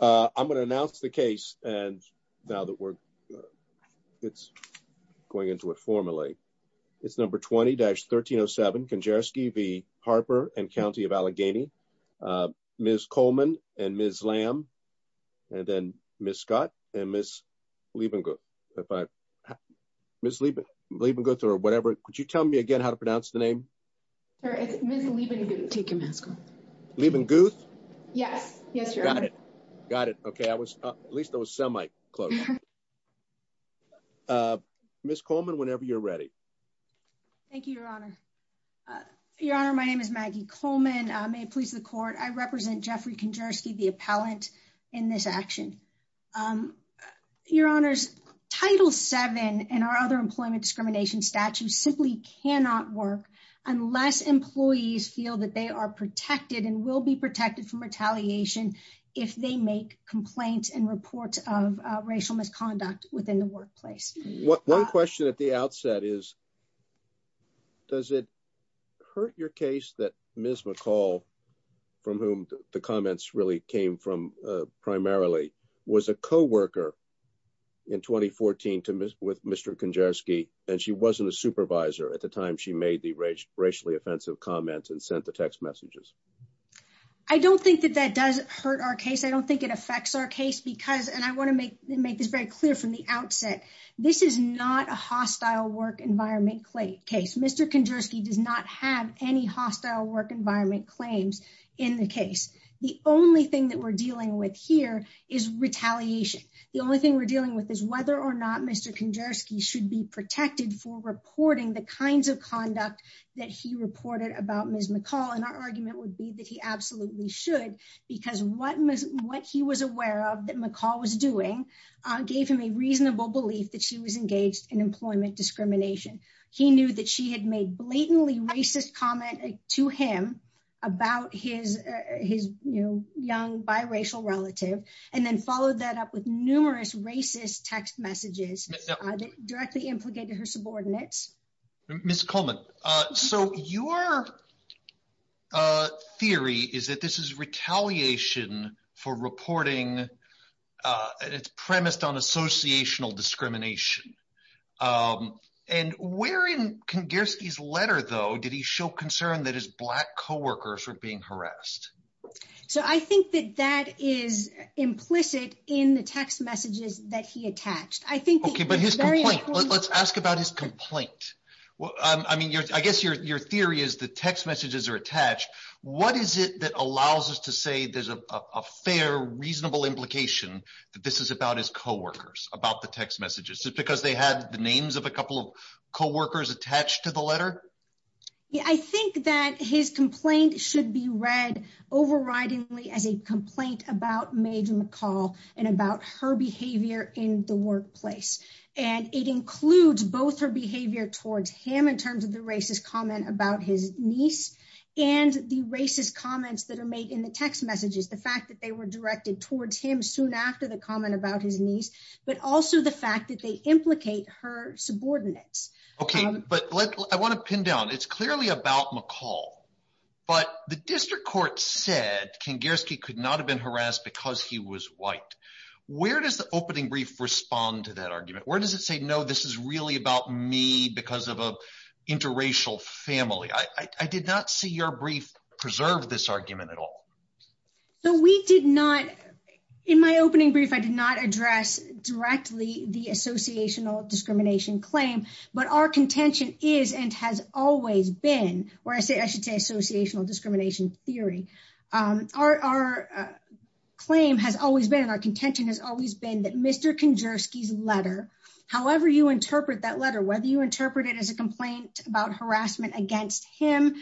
I'm going to announce the case and now that we're going into it formally, it's number 20-1307, Kengerski v. Harper and County of Allegheny. Ms. Coleman and Ms. Lamb, and then Ms. Scott and Ms. Liebenguth, or whatever, could you tell me again how to pronounce the name? Sorry, is it Ms. Liebenguth? Liebenguth? Yes. Yes, Your Honor. Got it. Got it. Okay. At least I was semi-close. Ms. Coleman, whenever you're ready. Thank you, Your Honor. Your Honor, my name is Maggie Coleman. I'm a police of the court. I represent Jeffrey Kengerski, the appellant, in this action. Your Honors, Title VII and our other employment discrimination statutes simply cannot work unless employees feel that they are protected and will be protected from retaliation if they make complaints and report of racial misconduct within the workplace. One question at the outset is, does it hurt your case that Ms. McCall, from whom the comments really came from primarily, was a co-worker in 2014 with Mr. Kengerski and she wasn't a supervisor at the time she made the racially offensive comments and sent the text messages? I don't think that that does hurt our case. I don't think it affects our case because, and I want to make this very clear from the outset, this is not a hostile work environment case. Mr. Kengerski does not have any hostile work environment claims in the case. The only thing that we're dealing with here is retaliation. The only thing we're dealing with is whether or not Mr. Kengerski should be protected for reporting the kinds of conduct that he reported about Ms. McCall and our argument would be that he absolutely should because what he was aware of that McCall was doing gave him a reasonable belief that she was engaged in employment discrimination. He knew that she had made blatantly racist comment to him about his young biracial relative and then followed that up with numerous racist text messages directly implicated her subordinates. Ms. Coleman, so your theory is that this is retaliation for reporting and it's premised on associational discrimination. And where in Kengerski's letter, though, did he show concern that his black co-workers were being harassed? So I think that that is implicit in the text messages that he attached. I think it's very important. Okay, but his complaint. Let's ask about his complaint. I mean, I guess your theory is the text messages are attached. What is it that allows us to say there's a fair, reasonable implication that this is about his co-workers, about the text messages? Is it because they have the names of a couple of co-workers attached to the letter? I think that his complaint should be read overridingly as a complaint about Maid McCall and about her behavior in the workplace. And it includes both her behavior towards him in terms of the racist comment about his niece, and the racist comments that are made in the text messages, the fact that they were directed towards him soon after the comment about his niece, but also the fact that they implicate her subordinates. Okay, but I want to pin down, it's clearly about McCall, but the district court said Kingarski could not have been harassed because he was white. Where does the opening brief respond to that argument? Where does it say, no, this is really about me because of an interracial family? I did not see your brief preserve this argument at all. So we did not, in my opening brief, I did not address directly the associational discrimination claim, but our contention is, and has always been, or I should say associational discrimination theory, our claim has always been, our contention has always been that Mr. Kingarski's letter, however you interpret that letter, whether you interpret it as a complaint about harassment against him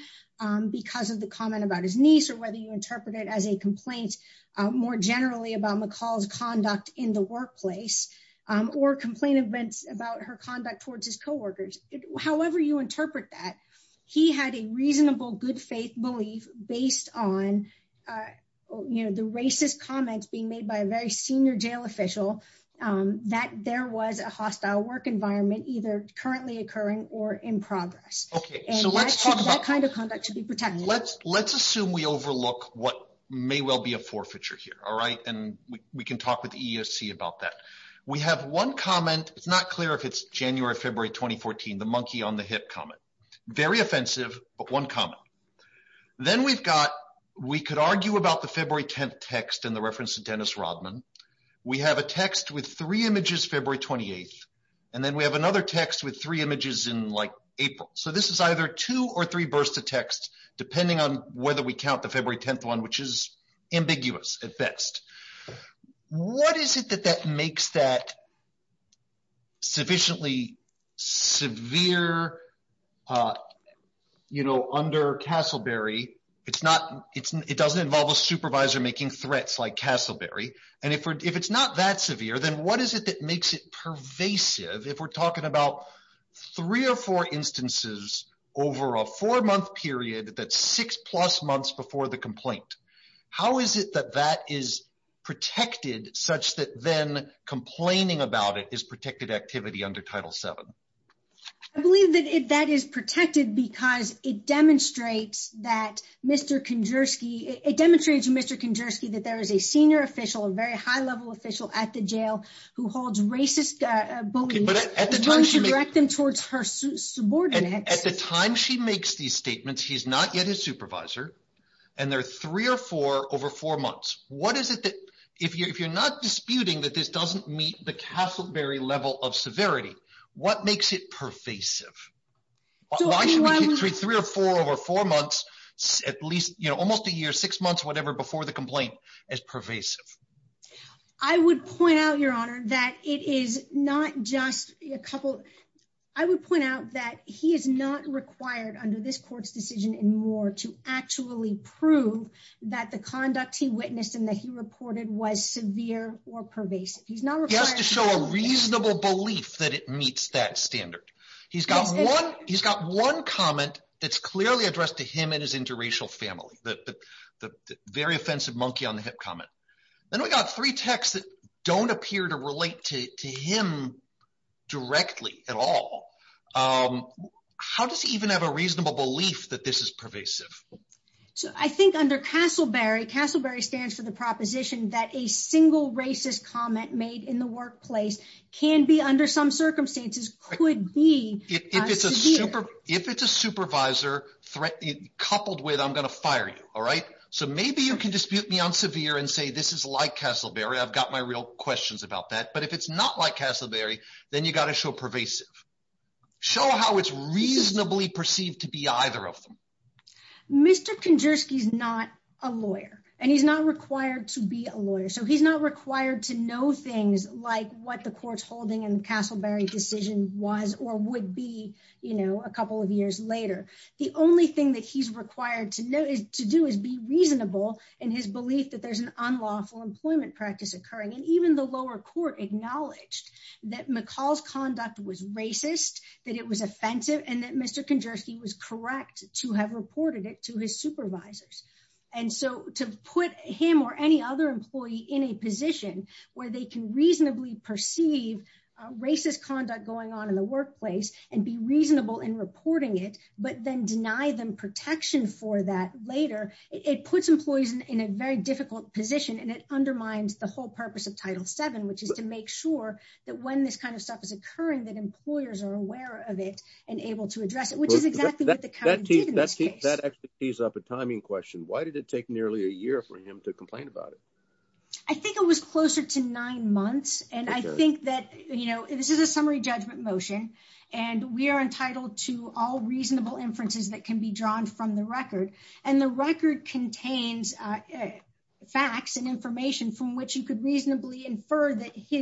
because of the comment about his niece, or whether you interpret it as a complaint more generally about McCall's conduct in the workplace, or complaint events about her conduct towards his coworkers, however you interpret that, he had a reasonable good faith belief based on the racist comments being made by a very senior jail official that there was a hostile work environment either currently occurring or in progress. Okay, so let's talk about- And that kind of conduct should be protected. Let's assume we overlook what may well be a forfeiture here, all right, and we can talk with the EEOC about that. We have one comment. It's not clear if it's January, February 2014, the monkey on the hip comment. Very offensive, but one comment. Then we've got, we could argue about the February 10th text and the reference to Dennis Rodman. We have a text with three images February 28th, and then we have another text with three images in like April. So this is either two or three bursts of text depending on whether we count the February 10th one, which is ambiguous at best. What is it that that makes that sufficiently severe, you know, under Castleberry? It's not, it doesn't involve a supervisor making threats like Castleberry, and if it's not that severe, then what is it that makes it pervasive if we're talking about three or four instances over a four-month period that's six-plus months before the complaint? How is it that that is protected such that then complaining about it is protected activity under Title VII? I believe that that is protected because it demonstrates that Mr. Konderski, it demonstrates Mr. Konderski that there is a senior official, a very high-level official at the jail who But at the time she makes these statements, he's not yet a supervisor, and there are three or four over four months. What is it that, if you're not disputing that this doesn't meet the Castleberry level of severity, what makes it pervasive? Why should we treat three or four over four months, at least, you know, almost a year, six months, whatever, before the complaint as pervasive? I would point out, Your Honor, that it is not just a couple, I would point out that he is not required under this court's decision anymore to actually prove that the conduct he witnessed and that he reported was severe or pervasive. He has to show a reasonable belief that it meets that standard. He's got one, he's got one comment that's clearly addressed to him and his interracial family, the very offensive monkey on the hip comment. Then we've got three texts that don't appear to relate to him directly at all. How does he even have a reasonable belief that this is pervasive? I think under Castleberry, Castleberry stands for the proposition that a single racist comment made in the workplace can be, under some circumstances, could be severe. If it's a supervisor, coupled with, I'm going to fire you, all right? So maybe you can dispute the unsevere and say this is like Castleberry, I've got my real questions about that, but if it's not like Castleberry, then you've got to show pervasive. Show how it's reasonably perceived to be either of them. Mr. Konderski is not a lawyer, and he's not required to be a lawyer, so he's not required to know things like what the court's holding in Castleberry's decision was or would be a couple of years later. The only thing that he's required to do is be reasonable in his belief that there's an unlawful employment practice occurring. And even the lower court acknowledged that McCall's conduct was racist, that it was offensive, and that Mr. Konderski was correct to have reported it to his supervisors. And so to put him or any other employee in a position where they can reasonably perceive racist conduct going on in the workplace and be reasonable in reporting it, but then deny them protection for that later, it puts employees in a very difficult position, and it undermines the whole purpose of Title VII, which is to make sure that when this kind of stuff is occurring, that employers are aware of it and able to address it, which is exactly what That actually tees up a timing question. Why did it take nearly a year for him to complain about it? I think it was closer to nine months. And I think that, you know, this is a summary judgment motion, and we are entitled to all reasonable inferences that can be drawn from the record. And the record contains facts and information from which you could reasonably infer that he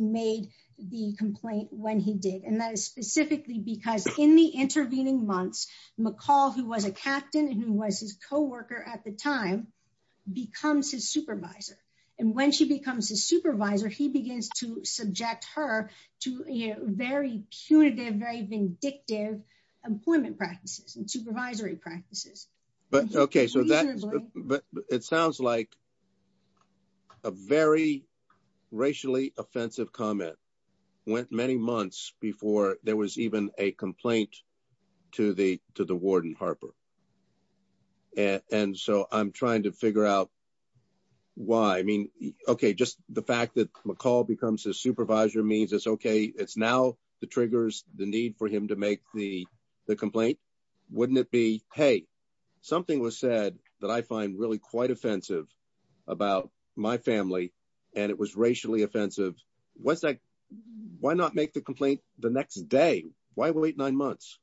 made the complaint when he did. And that is specifically because in the intervening months, McCall, who was a captain and who was his co-worker at the time, becomes his supervisor. And when she becomes his supervisor, he begins to subject her to very punitive, very vindictive employment practices and supervisory practices. But OK, so that it sounds like a very racially offensive comment went many months before there was even a complaint to the to the warden, Harper. And so I'm trying to figure out why I mean, OK, just the fact that McCall becomes his supervisor means it's OK, it's now the triggers, the need for him to make the the be, hey, something was said that I find really quite offensive about my family and it was racially offensive. What's that? Why not make the complaint the next day? Why wait nine months?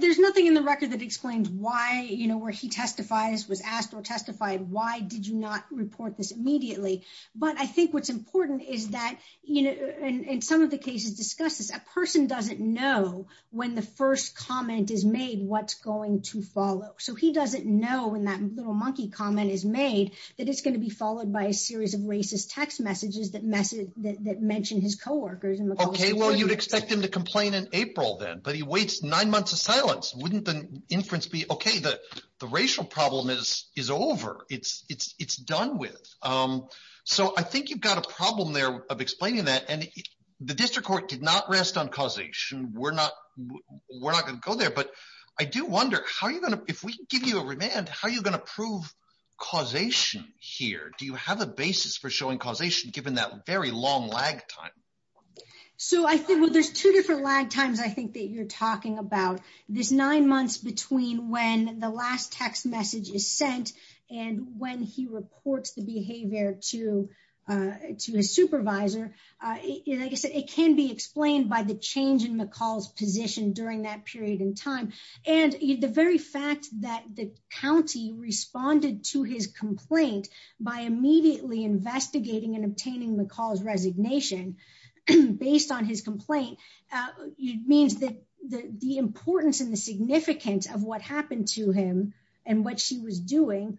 There's nothing in the record that explains why, you know, where she testifies, was asked or testified, why did you not report this immediately? But I think what's important is that, you know, in some of the cases discussed, a person doesn't know when the first comment is made, what's going to follow. So he doesn't know when that little monkey comment is made, that it's going to be followed by a series of racist text messages that message that mentioned his co-workers in the OK, well, you'd expect him to complain in April then. But he waits nine months of silence. Wouldn't the inference be OK that the racial problem is is over? It's it's it's done with. So I think you've got a problem there of explaining that. And the district court did not rest on causation. We're not we're not going to go there. But I do wonder, how are you going to if we give you a remand, how are you going to prove causation here? Do you have a basis for showing causation given that very long lag time? So I think there's two different lag times, I think, that you're talking about. There's nine months between when the last text message is sent and when he reports the supervisor. It can be explained by the change in the call's position during that period in time. And the very fact that the county responded to his complaint by immediately investigating and obtaining the call's resignation based on his complaint means that the importance and the significance of what happened to him and what she was doing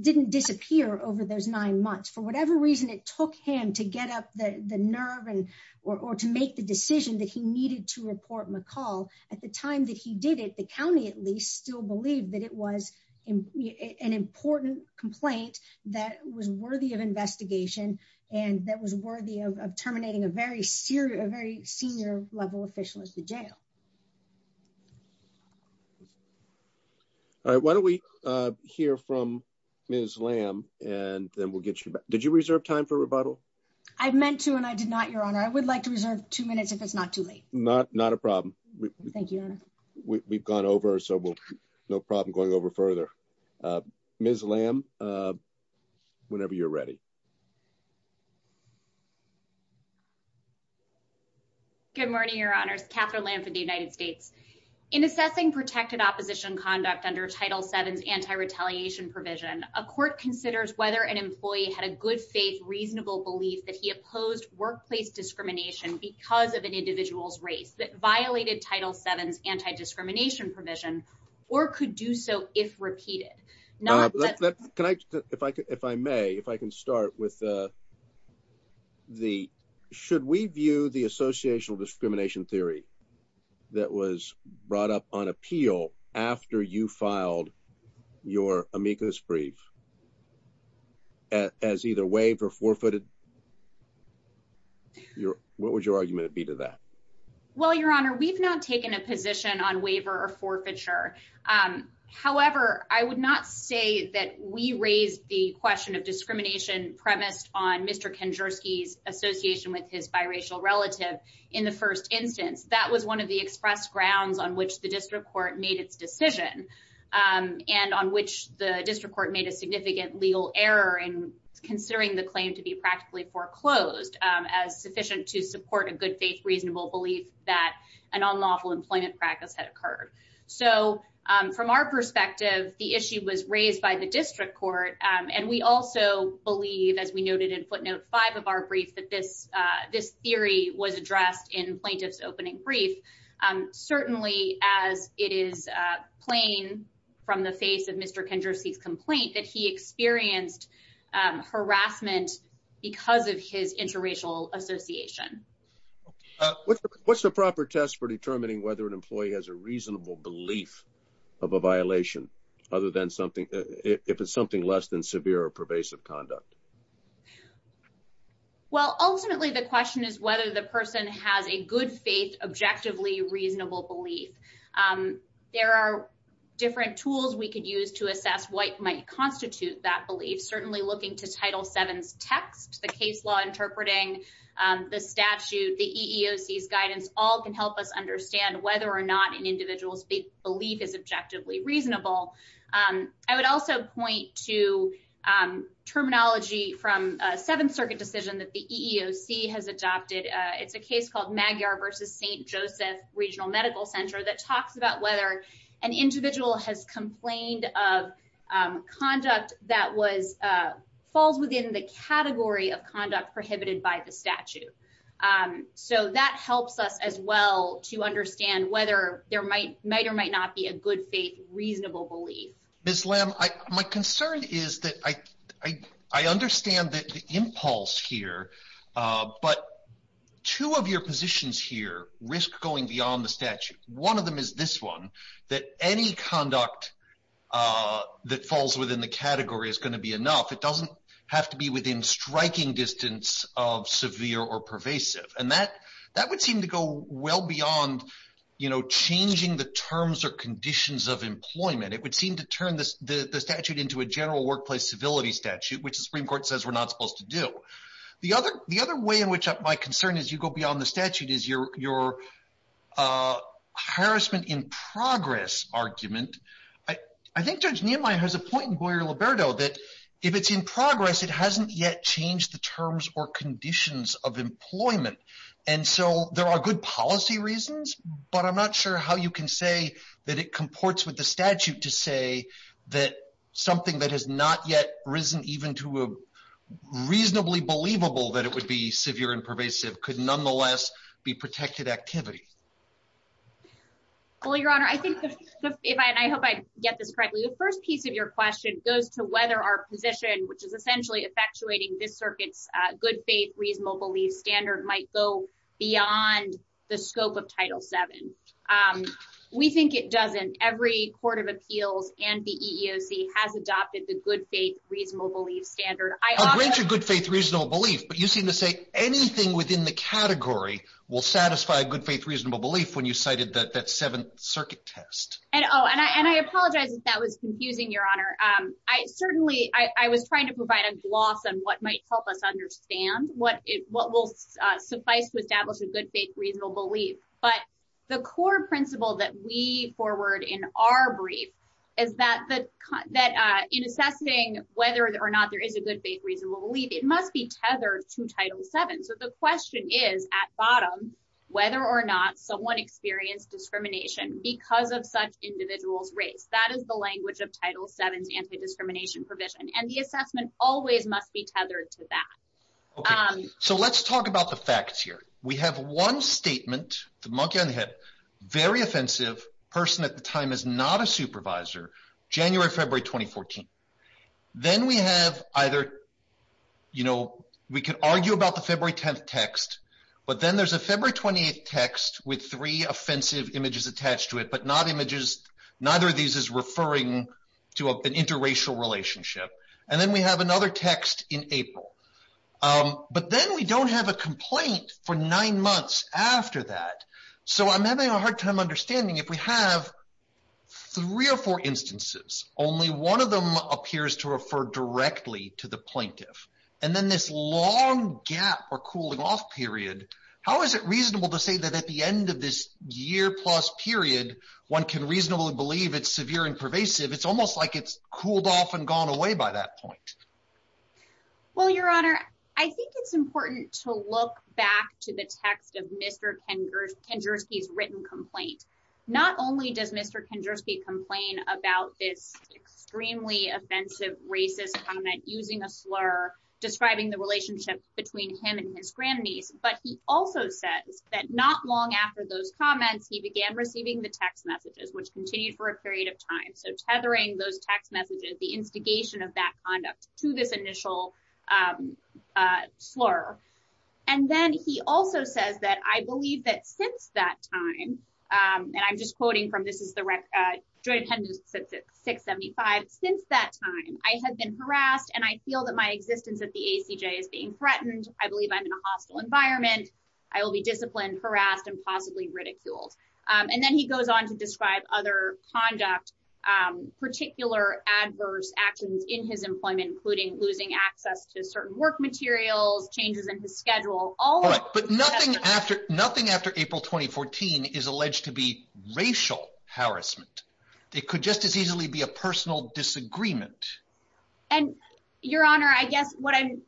didn't disappear over those nine months. For whatever reason, it took him to get up the nerve or to make the decision that he needed to report McCall at the time that he did it. The county, at least, still believed that it was an important complaint that was worthy of investigation and that was worthy of terminating a very serious, very senior level official at the jail. All right, why don't we hear from Ms. Lamb and then we'll get you back. Did you reserve time for rebuttal? I meant to and I did not, Your Honor. I would like to reserve two minutes if it's not too late. Not not a problem. Thank you. We've gone over so we'll have no problem going over further. Ms. Lamb, whenever you're ready. Good morning, Your Honor. Catherine Lamb from the United States. In assessing protected opposition conduct under Title VII's anti-retaliation provision, a court considers whether an employee had a good, safe, reasonable belief that he opposed workplace discrimination because of an individual's race that violated Title VII's anti-discrimination provision or could do so if repeated. If I could, if I may, if I can start with the should we view the associational discrimination theory that was brought up on appeal after you filed your amicus brief as either waive or forfeited? What would your argument be to that? Well, Your Honor, we've not taken a position on waiver or forfeiture. However, I would not say that we raised the question of discrimination premise on Mr. Kondersky's association with his biracial relative in the first instance. That was one of the express grounds on which the district court made its decision and on which the district court made a significant legal error in considering the claim to be practically foreclosed as sufficient to support a good, safe, reasonable belief that an unlawful employment practice had occurred. So from our perspective, the issue was raised by the district court. And we also believe, as we noted in footnote five of our brief, that this this theory was addressed in plaintiff's opening brief, certainly as it is plain from the face of Mr. Kondersky's complaint that he experienced harassment because of his interracial association. What's the proper test for determining whether an employee has a reasonable belief of a severe or pervasive conduct? Well, ultimately, the question is whether the person has a good, safe, objectively reasonable belief. There are different tools we could use to assess what might constitute that belief, certainly looking to Title VII text, the case law interpreting, the statute, the EEOC's guidance all can help us understand whether or not an individual's belief is objectively reasonable. I would also point to terminology from a Seventh Circuit decision that the EEOC has adopted. It's a case called Magyar versus St. Joseph Regional Medical Center that talks about whether an individual has complained of conduct that was falls within the category of conduct prohibited by the statute. So that helps us as well to understand whether there might or might not be a good, safe, reasonable belief. Ms. Lamb, my concern is that I understand that the impulse here, but two of your positions here risk going beyond the statute. One of them is this one, that any conduct that falls within the category is going to be enough. It doesn't have to be within striking distance of severe or pervasive. And that that would seem to go well beyond, you know, changing the terms or conditions of employment. It would seem to turn the statute into a general workplace civility statute, which the Supreme Court says we're not supposed to do. The other the other way in which my concern is you go beyond the statute is your harassment in progress argument. I think Judge Niemeyer has a point in Boyer-Liberto that if it's in progress, it hasn't yet changed the terms or conditions of employment. And so there are good policy reasons, but I'm not sure how you can say that it comports with the statute to say that something that has not yet risen even to a reasonably believable that it would be severe and pervasive could nonetheless be protected activity. Well, Your Honor, I think if I and I hope I get this correctly, the first piece of your question goes to whether our position, which is essentially effectuating this circuit's good faith, reasonable belief standard, might go beyond the scope of Title VII. We think it doesn't. Every court of appeals and the EEOC has adopted the good faith, reasonable belief standard. I think a good faith, reasonable belief, but you seem to say anything within the category will satisfy a good faith, reasonable belief when you cited that seventh circuit test. And oh, and I apologize if that was confusing, Your Honor. I certainly I was trying to provide a gloss on what might help us understand what what will suffice to establish a good faith, reasonable belief. But the core principle that we forward in our brief is that that in assessing whether or not there is a good faith, reasonable belief, it must be tethered to Title VII. So the question is, at bottom, whether or not someone experienced discrimination because of such individual race. That is the language of Title VII anti-discrimination provision. And the assessment always must be tethered to that. So let's talk about the facts here. We have one statement, the monkey on the head, very offensive person at the time is not a supervisor. January, February 2014. Then we have either, you know, we can argue about the February 10th text, but then there's a February 28th text with three offensive images attached to it, but not images. Neither of these is referring to an interracial relationship. And then we have another text in April. But then we don't have a complaint for nine months after that. So I'm having a hard time understanding if we have three or four instances, only one of them appears to refer directly to the plaintiff. And then this long gap or cooling off period. How is it reasonable to say that at the end of this year plus period, one can reasonably believe it's severe and pervasive? It's almost like it's cooled off and gone away by that point. Well, Your Honor, I think it's important to look back to the text of Mr. Kendrick's written complaint. Not only does Mr. Kendrick's complain about it's extremely offensive, racist comment using a slur describing the relationship between him and his grandniece, but he also said that not long after those comments, he began receiving the text messages, which continued for a period of time. So tethering those text messages, the instigation of that conduct. To this initial slur. And then he also says that I believe that since that time, and I'm just quoting from this is the record, 675. Since that time, I have been harassed and I feel that my existence at the ACJ is being threatened. I believe I'm in a hostile environment. I will be disciplined, harassed and possibly ridiculed. And then he goes on to describe other conduct, particular adverse actions in his employment, including losing access to certain work materials, changes in his schedule. All right. But nothing after nothing after April 2014 is alleged to be racial harassment. It could just as easily be a personal disagreement. And Your Honor, I guess what I'm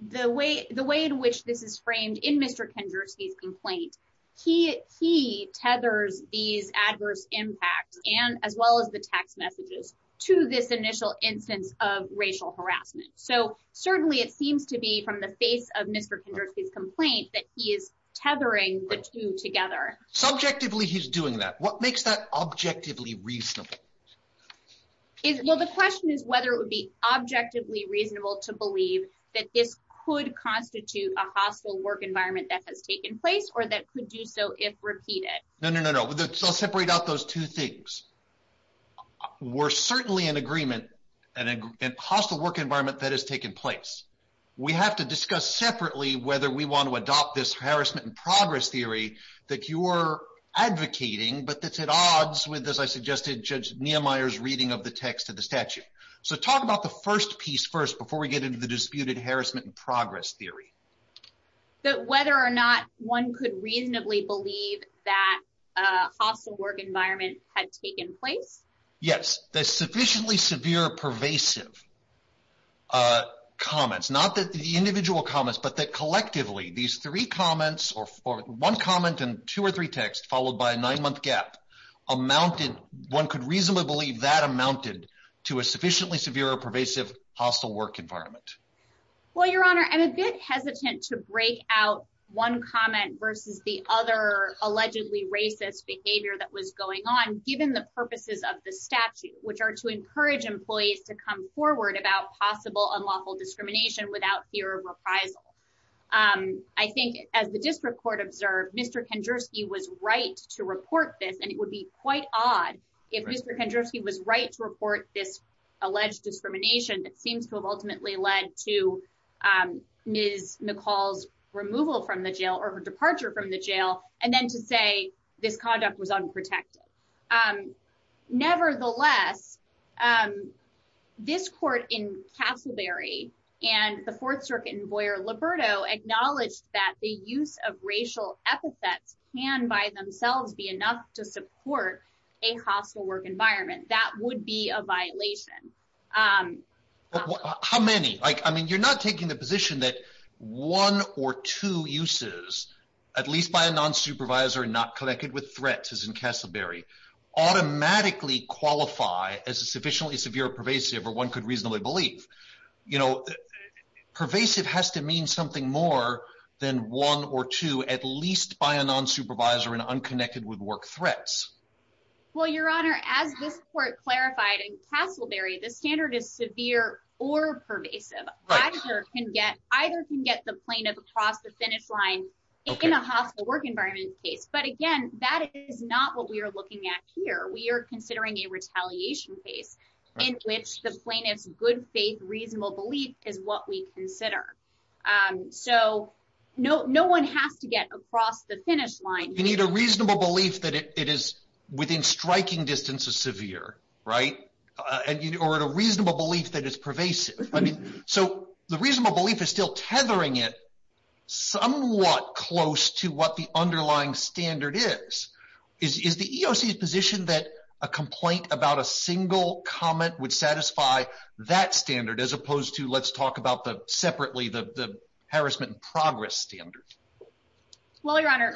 the way the way in which this is framed in Mr. Kendrick's complaint, he he tethers these adverse impacts and as well as the text messages to this initial instance of racial harassment. So certainly it seems to be from the face of Mr. Kendrick's complaint that he is tethering the two together. Subjectively, he's doing that. What makes that objectively reasonable? Well, the question is whether it would be objectively reasonable to believe that this could constitute a hostile work environment that has taken place or that could do so if repeated. No, no, no, no. So separate out those two things. We're certainly in agreement and a hostile work environment that has taken place. We have to discuss separately whether we want to adopt this harassment and progress theory that you were advocating, but that's at odds with, as I suggested, Judge Nehemiah's reading of the text of the statute. So talk about the first piece first before we get into the disputed harassment and progress theory. So whether or not one could reasonably believe that a hostile work environment has taken place. Yes, that's sufficiently severe, pervasive. Comments, not that the individual comments, but that collectively these three comments or one comment and two or three texts followed by a nine month gap amounted, one could reasonably believe that amounted to a sufficiently severe, pervasive, hostile work environment. Well, Your Honor, I'm a bit hesitant to break out one comment versus the other allegedly racist behavior that was going on, given the purposes of the statute, which are to encourage employees to come forward about possible unlawful discrimination without fear of reprisal. I think as the district court observed, Mr. Kandorski was right to report this, and it would be quite odd if Mr. Kandorski was right to report this alleged discrimination that seems to have ultimately led to Ms. Nicole's removal from the jail or her departure from the jail and then to say this conduct was unprotected. Nevertheless, this court in Castleberry and the Fourth Circuit Envoy Laberto acknowledged that the use of racial epithets can by themselves be enough to support a hostile work environment. That would be a violation. How many? I mean, you're not taking the position that one or two uses, at least by a non-supervisor and not connected with threats, as in Castleberry, automatically qualify as a sufficiently severe, pervasive, or one could reasonably believe. You know, pervasive has to mean something more than one or two, at least by a non-supervisor and unconnected with work threats. Well, Your Honor, as this court clarified in Castleberry, the standard is severe or pervasive. A badger either can get the plaintiff across the finish line in a hostile work environment, but again, that is not what we are looking at here. We are considering a retaliation case in which the plaintiff's good faith, reasonable belief is what we consider. So no one has to get across the finish line. You need a reasonable belief that it is within striking distance of severe, right? Or a reasonable belief that it's pervasive. I mean, so the reasonable belief is still tethering it somewhat close to what the underlying standard is. Is the EOC's position that a complaint about a single comment would satisfy that standard as opposed to, let's talk about the separately, the harassment progress standard? Well, Your Honor,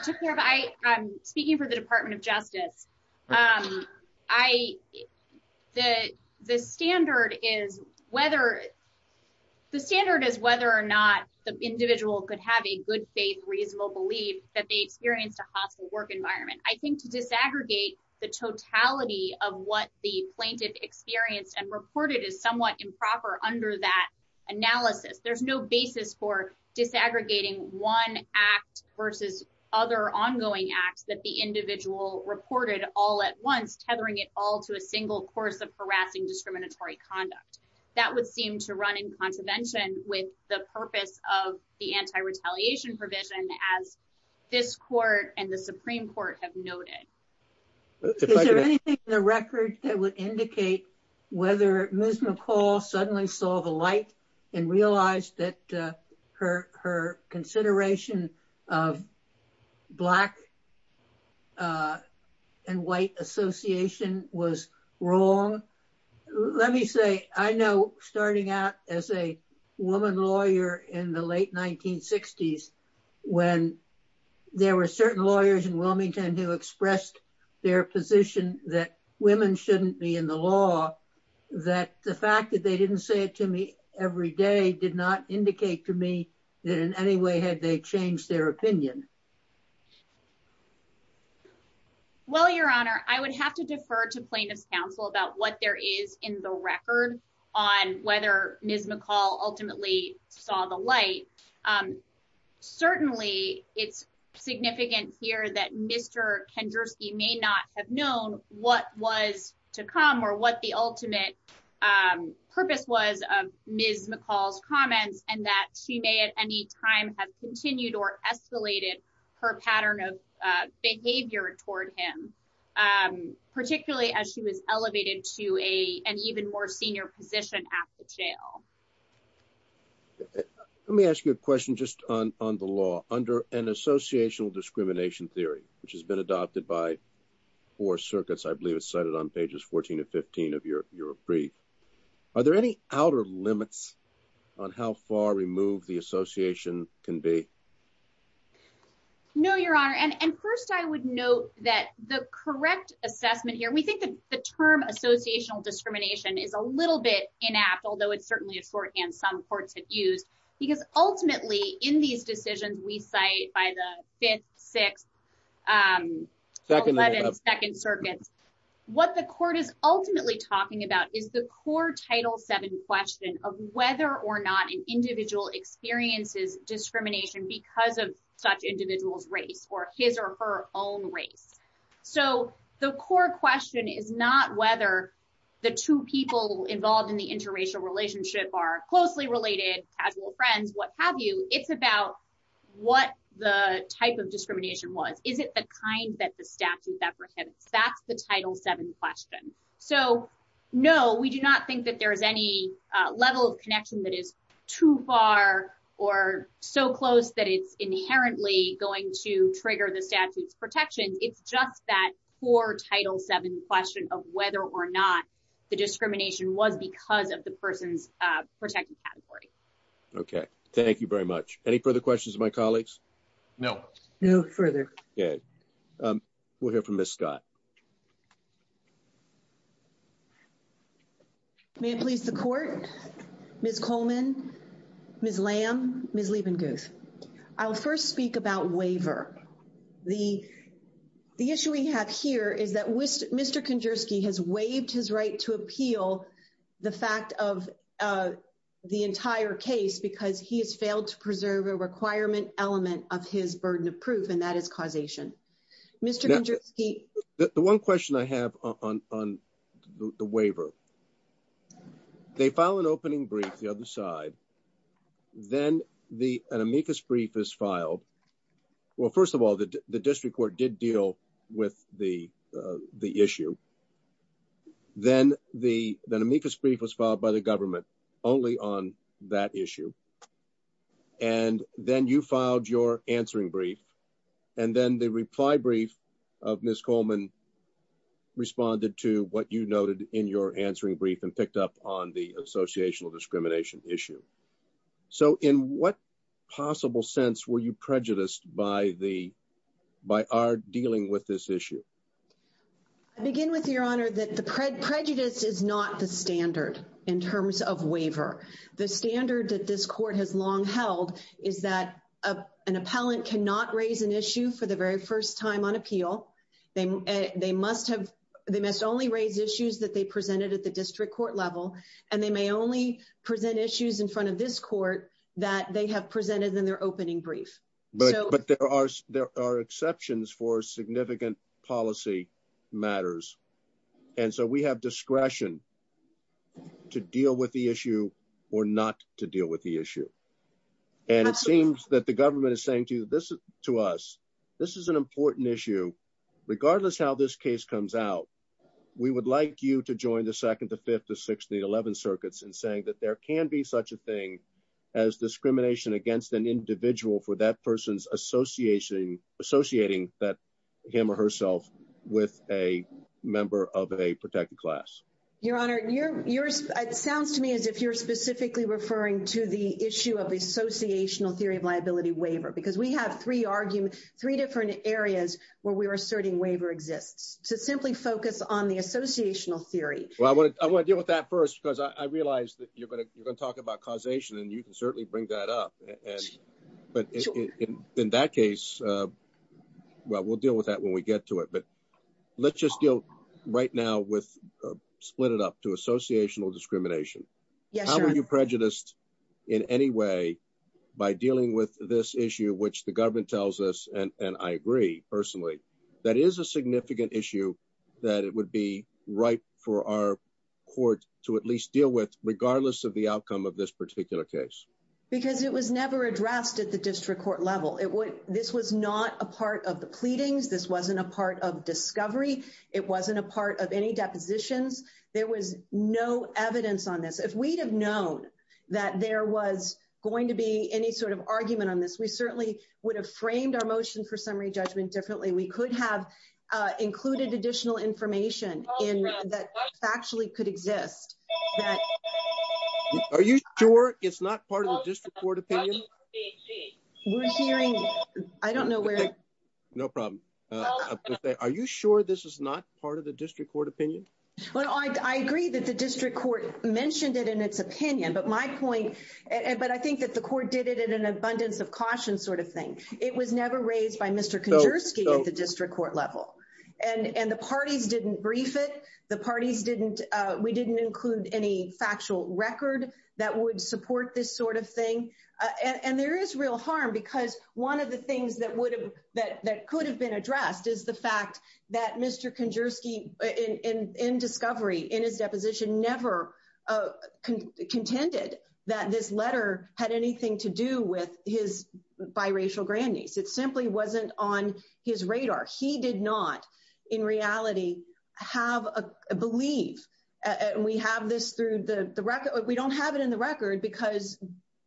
speaking for the Department of Justice, I, the, the standard is whether, the standard is whether or not the individual could have a good faith, reasonable belief that they experienced a hostile work environment. I think to disaggregate the totality of what the plaintiff experienced and reported is somewhat improper under that analysis. There's no basis for disaggregating one act versus other ongoing acts that the individual reported all at once, tethering it all to a single course of harassing discriminatory conduct. That would seem to run in contravention with the purpose of the anti-retaliation provision as this court and the Supreme Court have noted. Is there anything in the records that would indicate whether Ms. Wise, that her, her consideration of black and white association was wrong? Let me say, I know starting out as a woman lawyer in the late 1960s, when there were certain lawyers in Wilmington who expressed their position that women shouldn't be in the law, that the fact that they didn't say it to me every day did not indicate to me that in any way had they changed their opinion. Well, your honor, I would have to defer to plaintiff's counsel about what there is in the record on whether Ms. McCall ultimately saw the light. Certainly it's significant here that Mr. Kendersky may not have known what was to come or what the ultimate purpose was of Ms. McCall's comments and that she may at any time have continued or escalated her pattern of behavior toward him, particularly as she was elevated to a, an even more senior position at the jail. Let me ask you a question just on, on the law under an associational discrimination theory, which has been adopted by four circuits. I believe it's cited on pages 14 and 15 of your, your brief. Are there any outer limits on how far removed the association can be? No, your honor, and first I would note that the correct assessment here, we think the term associational discrimination is a little bit inapp, although it's certainly a term that some courts have used, because ultimately in these decisions we cite by the fifth, sixth, um, second circuit, what the court is ultimately talking about is the core title seven question of whether or not an individual experiences discrimination because of such individual's race or his or her own race. So the core question is not whether the two people involved in the interracial relationship are closely related, casual friends, what have you. It's about what the type of discrimination was. Is it the kind that the statute apprehends? That's the title seven question. So, no, we do not think that there is any level of connection that is too far or so close that it's inherently going to trigger the statute's protection. It's just that core title seven question of whether or not the discrimination was caused because of the person's protected category. Okay. Thank you very much. Any further questions of my colleagues? No. No further. Good. Um, we'll hear from Ms. Scott. May this lead the court, Ms. Coleman, Ms. Lamb, Ms. Levengoof. I'll first speak about waiver. The issue we have here is that Mr. Kondersky has waived his right to appeal the fact of the entire case because he has failed to preserve a requirement element of his burden of proof, and that is causation. Mr. Kondersky. The one question I have on the waiver, they file an opening brief, the other side, then an amicus brief is filed. Well, first of all, the district court did deal with the issue. Then the amicus brief was filed by the government only on that issue. And then you filed your answering brief. And then the reply brief of Ms. Coleman responded to what you noted in your answering brief and picked up on the associational discrimination issue. So, in what possible sense were you prejudiced by the, by our dealing with this issue? I begin with, Your Honor, that the prejudice is not the standard in terms of waiver. The standard that this court has long held is that an appellant cannot raise an issue for the very first time on appeal. They must have, they must only raise issues that they presented at the district court level, and they may only present issues in front of this court that they have presented in their opening brief. But there are exceptions for significant policy matters. And so we have discretion to deal with the issue or not to deal with the issue. And it seems that the government is saying to us, this is an important issue, regardless how this case comes out, we would like you to join the 2nd, the 5th, the 6th, the 11th circuits in saying that there can be such a thing as discrimination against an individual for that person's association, associating that him or herself with a member of a protected class. Your Honor, you're, it sounds to me as if you're specifically referring to the issue of associational theory of liability waiver, because we have three arguments, three different areas where we are asserting waiver exists to simply focus on the associational theory. Well, I want to, I want to deal with that first, because I realized that you're going to, you're going to talk about causation and you can certainly bring that up and, but in that case, well, we'll deal with that when we get to it, but let's just deal right now with split it up to associational discrimination. How are you prejudiced in any way by dealing with this issue, which the government tells us? And I agree personally, that is a significant issue that it would be right for our court to at least deal with regardless of the outcome of this particular case. Because it was never addressed at the district court level. It was, this was not a part of the pleadings. This wasn't a part of discovery. It wasn't a part of any deposition. There was no evidence on this. If we had known that there was going to be any sort of argument on this, we certainly would have framed our motion for summary judgment differently. We could have included additional information in that factually could exist. Are you sure it's not part of the district court opinion? I don't know where. No problem. I'll just say, are you sure this is not part of the district court opinion? Well, I agree that the district court mentioned it in its opinion, but my point, but I think that the court did it in an abundance of caution sort of thing. It was never raised by Mr. Kondersky at the district court level. And the parties didn't brief it. The parties didn't, we didn't include any factual record that would support this sort of thing. And there is real harm because one of the things that would have, that could have been addressed is the fact that Mr. Kondersky in discovery, in his deposition, never contended that this letter had anything to do with his biracial grandniece. It simply wasn't on his radar. He did not in reality have a belief. We have this through the record, we don't have it in the record because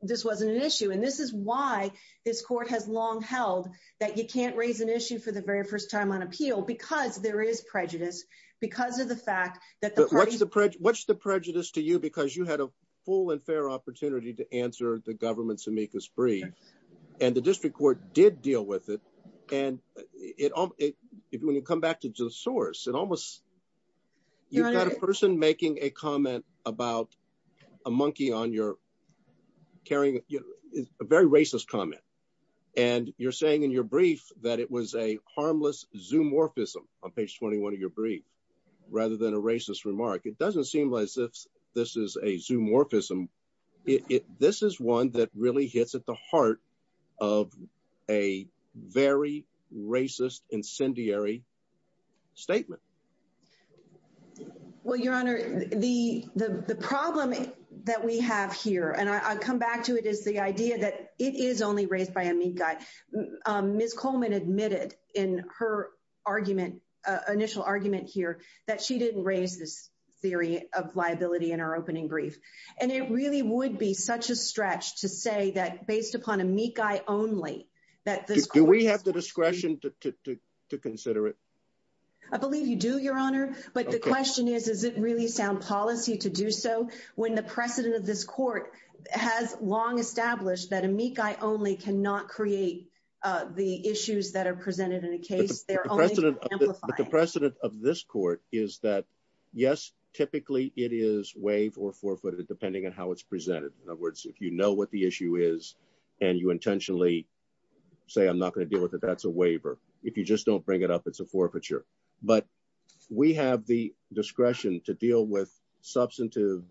this wasn't an issue. And this is why this court has long held that you can't raise an issue for the very first time on appeal because there is prejudice, because of the fact that the party. What's the prejudice to you because you had a full and fair opportunity to answer the government to make this brief and the district court did deal with it. And it, when you come back to the source, it almost, you've got a person making a comment about a monkey on your, carrying a very racist comment. And you're saying in your brief that it was a harmless zoomorphism on page 21 of your brief rather than a racist remark. It doesn't seem like this, this is a zoomorphism. This is one that really hits at the heart of a very racist incendiary statement. Well, Your Honor, the problem that we have here, and I'll come back to it, is the idea that it is only raised by a mean guy. Ms. Coleman admitted in her argument, initial argument here, that she didn't raise this theory of liability in her opening brief. And it really would be such a stretch to say that based upon a meek guy only that- Do we have the discretion to consider it? I believe you do, Your Honor. But the question is, is it really sound policy to do so when the precedent of this court has long established that a meek guy only cannot create the issues that are presented in a case? The precedent of this court is that, yes, typically it is waived or forfeited depending on how it's presented. In other words, if you know what the issue is and you intentionally say, I'm not going to deal with it, that's a waiver. If you just don't bring it up, it's a forfeiture. But we have the discretion to deal with substantive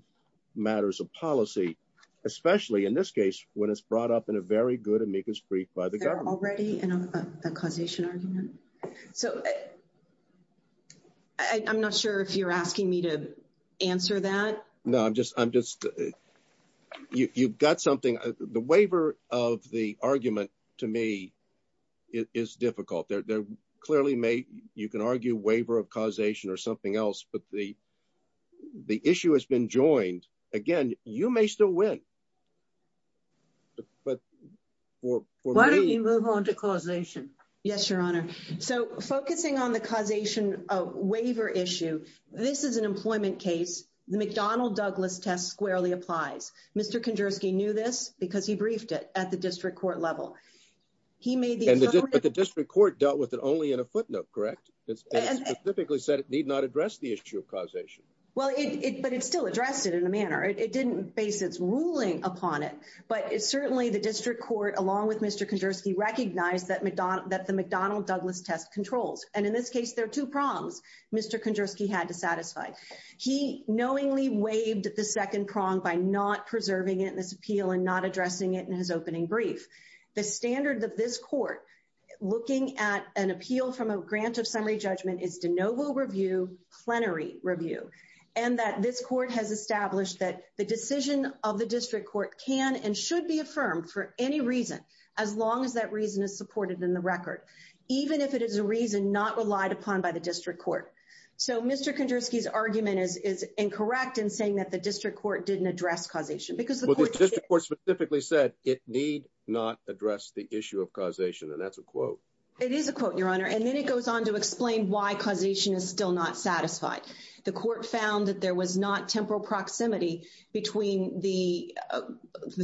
matters of policy, especially in this case when it's brought up in a very good amicus brief by the government. They're already in a causation argument? So, I'm not sure if you're asking me to answer that. No, I'm just, you've got something. The waiver of the argument, to me, is difficult. There clearly may, you can argue waiver of causation or something else, but the issue has been joined. Again, you may still win, but for me- Why don't you move on to causation? Yes, Your Honor. So, focusing on the causation waiver issue, this is an employment case. The McDonnell-Douglas test squarely applies. Mr. Kondrowski knew this because he briefed it at the district court level. He may be- But the district court dealt with it only in a footnote, correct? It specifically said it need not address the issue of causation. Well, but it still addressed it in a manner. It didn't base its ruling upon it. But certainly, the district court, along with Mr. Kondrowski, recognized that the McDonnell-Douglas test controlled. And in this case, there are two prongs Mr. Kondrowski had to satisfy. He knowingly waived the second prong by not preserving it in his appeal and not addressing it in his opening brief. The standards of this court looking at an appeal from a grant of summary judgment is de novo review, plenary review. And that this court has established that the decision of the district court can and should be affirmed for any reason, as long as that reason is supported in the record, even if it is a reason not relied upon by the district court. So, Mr. Kondrowski's argument is incorrect in saying that the district court didn't address causation. But the district court specifically said it need not address the issue of causation. And that's a quote. It is a quote, Your Honor. And then it goes on to explain why causation is still not satisfied. The court found that there was not temporal proximity between the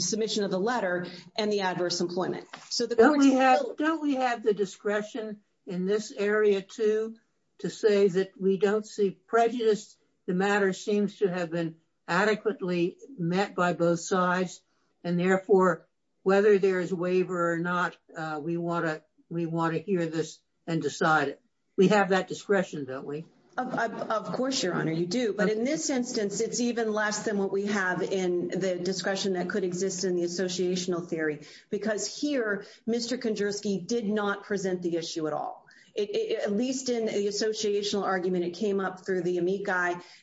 submission of the letter and the adverse employment. Don't we have the discretion in this area, too, to say that we don't see prejudice? The matter seems to have been adequately met by both sides. And therefore, whether there is a waiver or not, we want to hear this and decide it. We have that discretion, don't we? Of course, Your Honor, you do. But in this instance, it's even less than what we have in the discretion that could exist in the associational theory. Because here, Mr. Kondrowski did not present the issue at all. At least in the associational argument, it came up through the amici.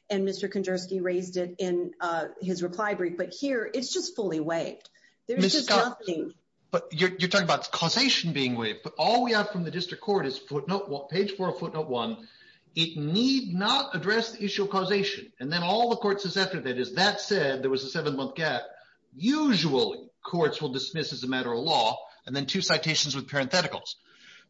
And Mr. Kondrowski raised it in his reply brief. But here, it's just fully waived. There's just nothing. But you're talking about causation being waived. But all we have from the district court is page 4 of footnote 1. It need not address the issue of causation. And then all the court's assessment is that said, there was a seven-month gap. Usual courts will dismiss as a matter of law. And then two citations with parentheticals.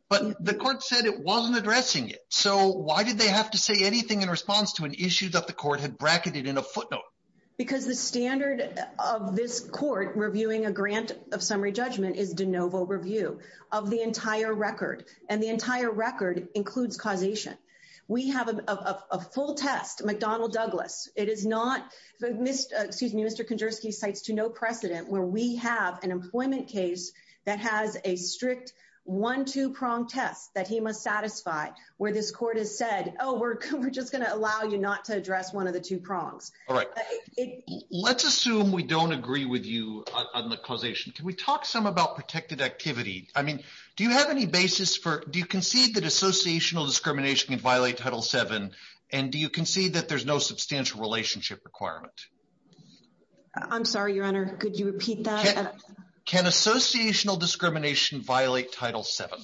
But the court said it wasn't addressing it. So why did they have to say anything in response to an issue that the court had bracketed in a footnote? Because the standard of this court reviewing a grant of summary judgment is de novo review of the entire record. And the entire record includes causation. We have a full test, McDonnell Douglas. It is not, excuse me, Mr. Kondrowski cites to no precedent where we have an employment case that has a strict one-two-prong test that he must satisfy where this court has said, oh, we're just going to allow you not to address one of the two prongs. All right. Let's assume we don't agree with you on the causation. Can we talk some about protected activity? I mean, do you have any basis for, do you concede that associational discrimination can violate Title VII? And do you concede that there's no substantial relationship requirement? I'm sorry, Your Honor. Could you repeat that? Can associational discrimination violate Title VII?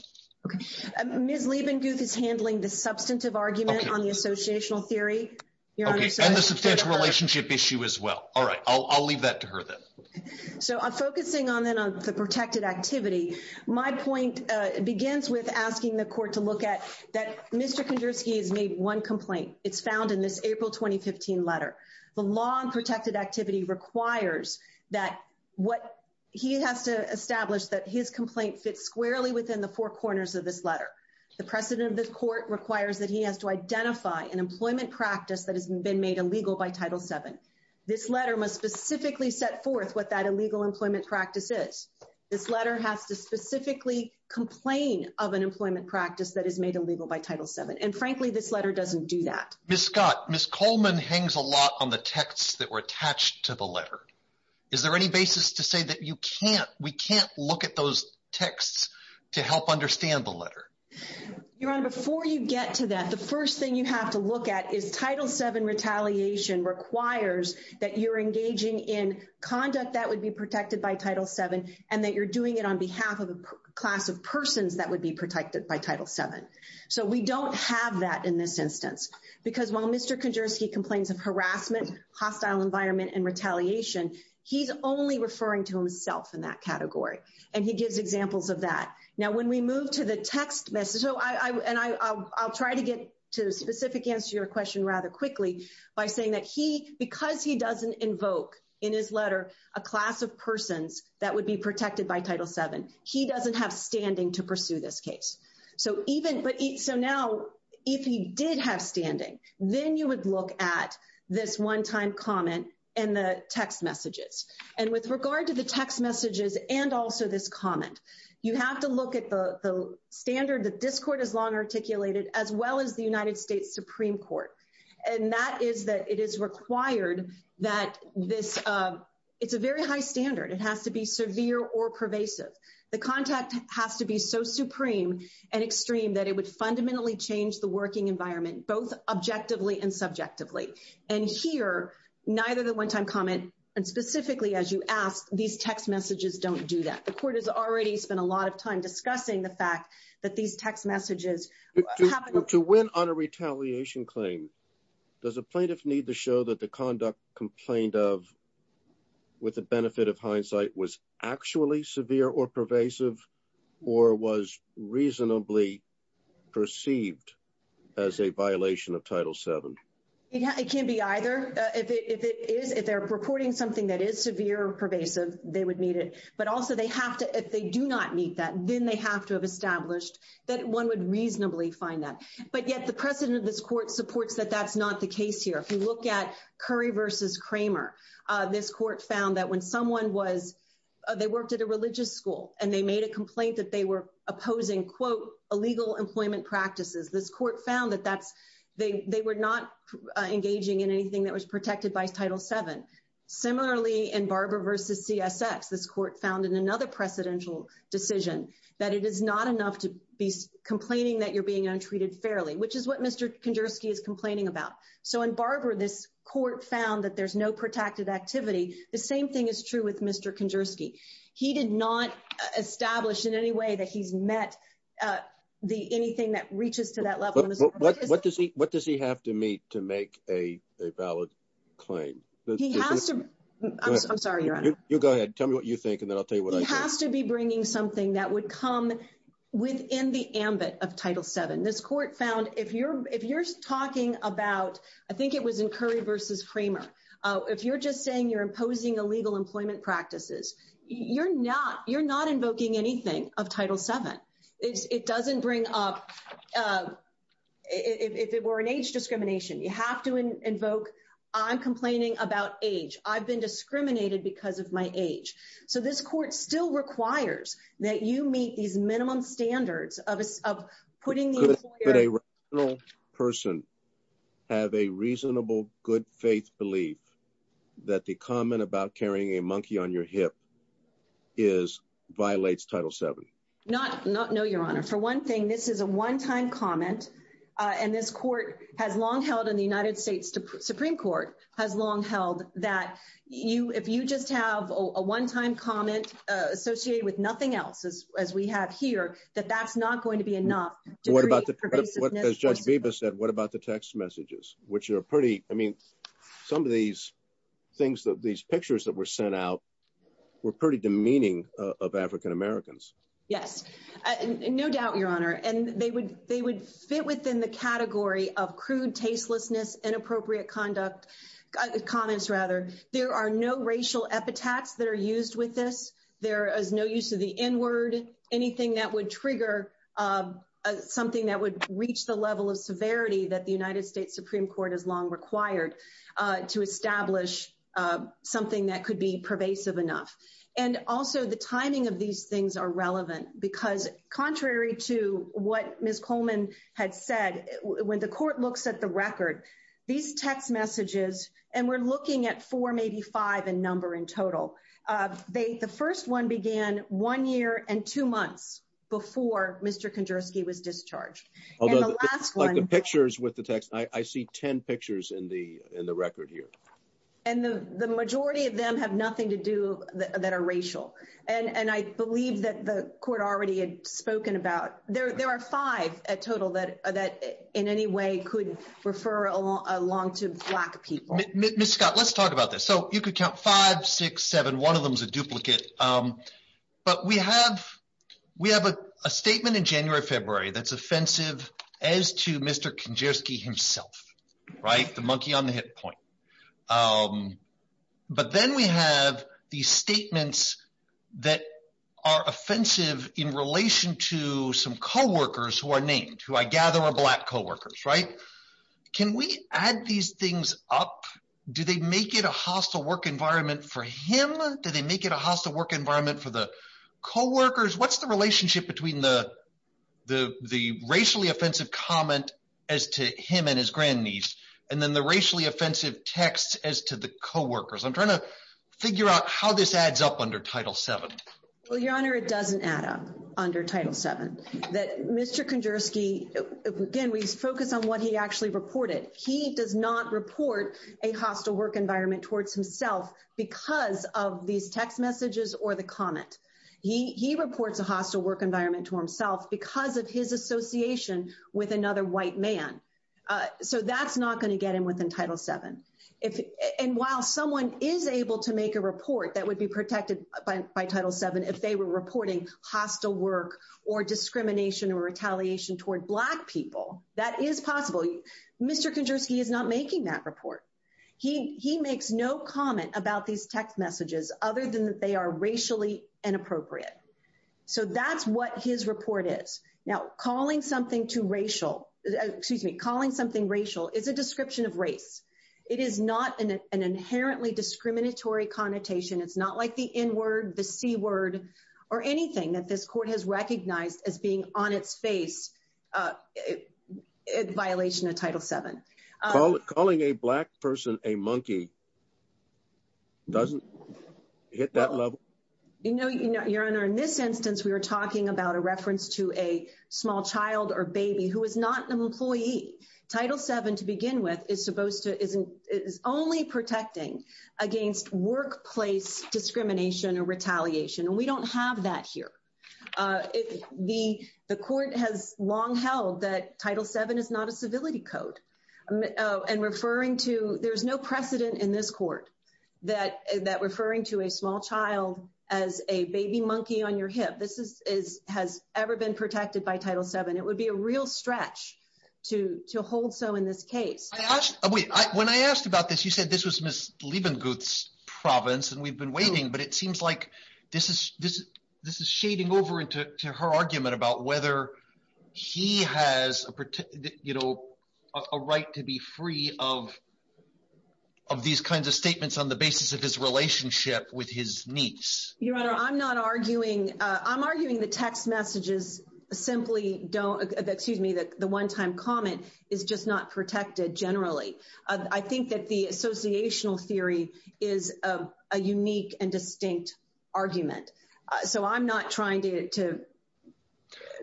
Ms. Liebenduke is handling the substantive argument on the associational theory. Okay. And the substantial relationship issue as well. All right. I'll leave that to her then. So focusing on the protected activity, my point begins with asking the court to look at that Mr. Kondrowski has made one complaint. It's found in this April 2015 letter. The law on protected activity requires that what he has to establish that his complaint fits squarely within the four corners of this letter. The precedent of this court requires that he has to identify an employment practice that has been made illegal by Title VII. This letter must specifically set forth what that illegal employment practice is. This letter has to specifically complain of an employment practice that is made illegal by Title VII. And frankly, this letter doesn't do that. Ms. Scott, Ms. Coleman hangs a lot on the texts that were attached to the letter. Is there any basis to say that we can't look at those texts to help understand the letter? Your Honor, before you get to that, the first thing you have to look at is Title VII retaliation requires that you're engaging in conduct that would be protected by Title VII and that you're doing it on behalf of a class of persons that would be protected by Title VII. So we don't have that in this instance. Because while Mr. Kondersky complains of harassment, hostile environment, and retaliation, he's only referring to himself in that category. And he gives examples of that. Now, when we move to the text message, and I'll try to get to the specific answer to your question rather quickly by saying that he, because he doesn't invoke in his letter a class of persons that would be protected by Title VII, he doesn't have standing to pursue this case. So even, so now, if he did have standing, then you would look at this one-time comment and the text messages. And with regard to the text messages and also this comment, you have to look at the standard that this Court has long articulated as well as the United States Supreme Court. And that is that it is required that this, it's a very high standard. It has to be severe or pervasive. The contact has to be so supreme and extreme that it would fundamentally change the working environment, both objectively and subjectively. And here, neither the one-time comment, and specifically, as you ask, these text messages don't do that. The Court has already spent a lot of time discussing the fact that these text messages have a- To win on a retaliation claim, does a plaintiff need to show that the conduct complained of with the benefit of hindsight was actually severe or pervasive or was reasonably perceived as a violation of Title VII? It can't be either. If it is, if they're reporting something that is severe or pervasive, they would need it. But also, they have to, if they do not need that, then they have to have established that one would reasonably find that. But yet, the precedent of this Court supports that that's not the case here. If you look at Curry v. Kramer, this Court found that when someone was, they worked at a religious school, and they made a complaint that they were opposing, quote, illegal employment practices. This Court found that that's, they were not engaging in anything that was protected by Title VII. Similarly, in Barber v. CSX, this Court found in another precedential decision that it is not enough to be complaining that you're being untreated fairly, which is what Mr. Kondersky is complaining about. So in Barber, this Court found that there's no protective activity. The same thing is true with Mr. Kondersky. He did not establish in any way that he met the, anything that reaches to that level. But what does he, what does he have to meet to make a valid claim? He has to, I'm sorry, Your Honor. You go ahead, tell me what you think, and then I'll tell you what I think. He has to be bringing something that would come within the ambit of Title VII. This Court found if you're, if you're talking about, I think it was in Curry v. Kramer, if you're just saying you're imposing illegal employment practices, you're not, you're not invoking anything of Title VII. It doesn't bring up, if it were an age discrimination, you have to invoke, I'm complaining about age. I've been discriminated because of my age. So this Court still requires that you meet these minimum standards of, of putting. Could a rational person have a reasonable, good faith belief that the comment about carrying a monkey on your hip is, violates Title VII? Not, not, no, Your Honor. For one thing, this is a one-time comment, and this Court has long held in the United States that one-time comments associated with nothing else, as, as we have here, that that's not going to be enough to create pervasiveness. So what about the, as Judge Bebas said, what about the text messages? Which are pretty, I mean, some of these things that, these pictures that were sent out were pretty demeaning of African Americans. Yes, no doubt, Your Honor. And they would, they would fit within the category of crude tastelessness, inappropriate conduct, comments rather. There are no racial epithets that are used with this. There is no use of the N-word. Anything that would trigger something that would reach the level of severity that the United States Supreme Court has long required to establish something that could be pervasive enough. And also, the timing of these things are relevant because contrary to what Ms. Coleman had said, when the Court looks at the record, these text messages, and we're looking at four, maybe five in number in total, they, the first one began one year and two months before Mr. Kondrowski was discharged. And the last one- Like the pictures with the text, I see 10 pictures in the, in the record here. And the, the majority of them have nothing to do that are racial. And, and I believe that the Court already had spoken about, there, there are five at in any way could refer along to black people. Ms. Scott, let's talk about this. So you could count five, six, seven, one of them's a duplicate. But we have, we have a statement in January, February that's offensive as to Mr. Kondrowski himself, right? The monkey on the hit point. But then we have these statements that are offensive in relation to some co-workers who are named, who I gather are black co-workers, right? Can we add these things up? Do they make it a hostile work environment for him? Do they make it a hostile work environment for the co-workers? What's the relationship between the, the, the racially offensive comment as to him and his grandniece, and then the racially offensive text as to the co-workers? I'm trying to figure out how this adds up under Title VII. Well, Your Honor, it doesn't add up under Title VII. That Mr. Kondrowski, again, we focus on what he actually reported. He does not report a hostile work environment towards himself because of these text messages or the comment. He reports a hostile work environment to himself because of his association with another white man. So that's not going to get him within Title VII. And while someone is able to make a report that would be protected by Title VII if they were reporting hostile work or discrimination or retaliation towards black people, that is possible. Mr. Kondrowski is not making that report. He makes no comment about these text messages other than that they are racially inappropriate. So that's what his report is. Now, calling something racial is a description of race. It is not an inherently discriminatory connotation. It's not like the N-word, the C-word, or anything that this court has recognized as being on its face in violation of Title VII. Calling a black person a monkey doesn't hit that level? You know, Your Honor, in this instance, we are talking about a reference to a small child or baby who is not an employee. Title VII, to begin with, is only protecting against workplace discrimination or retaliation. And we don't have that here. The court has long held that Title VII is not a civility code. And referring to—there's no precedent in this court that referring to a small child as a baby monkey on your hip has ever been protected by Title VII. It would be a real stretch to hold so in this case. Wait. When I asked about this, you said this was Ms. Lievengut's province and we've been waiting, but it seems like this is shading over into her argument about whether he has you know, a right to be free of these kinds of statements on the basis of his relationship with his niece. Your Honor, I'm not arguing—I'm arguing the text messages simply don't—excuse me, the one-time comment is just not protected generally. I think that the associational theory is a unique and distinct argument. So I'm not trying to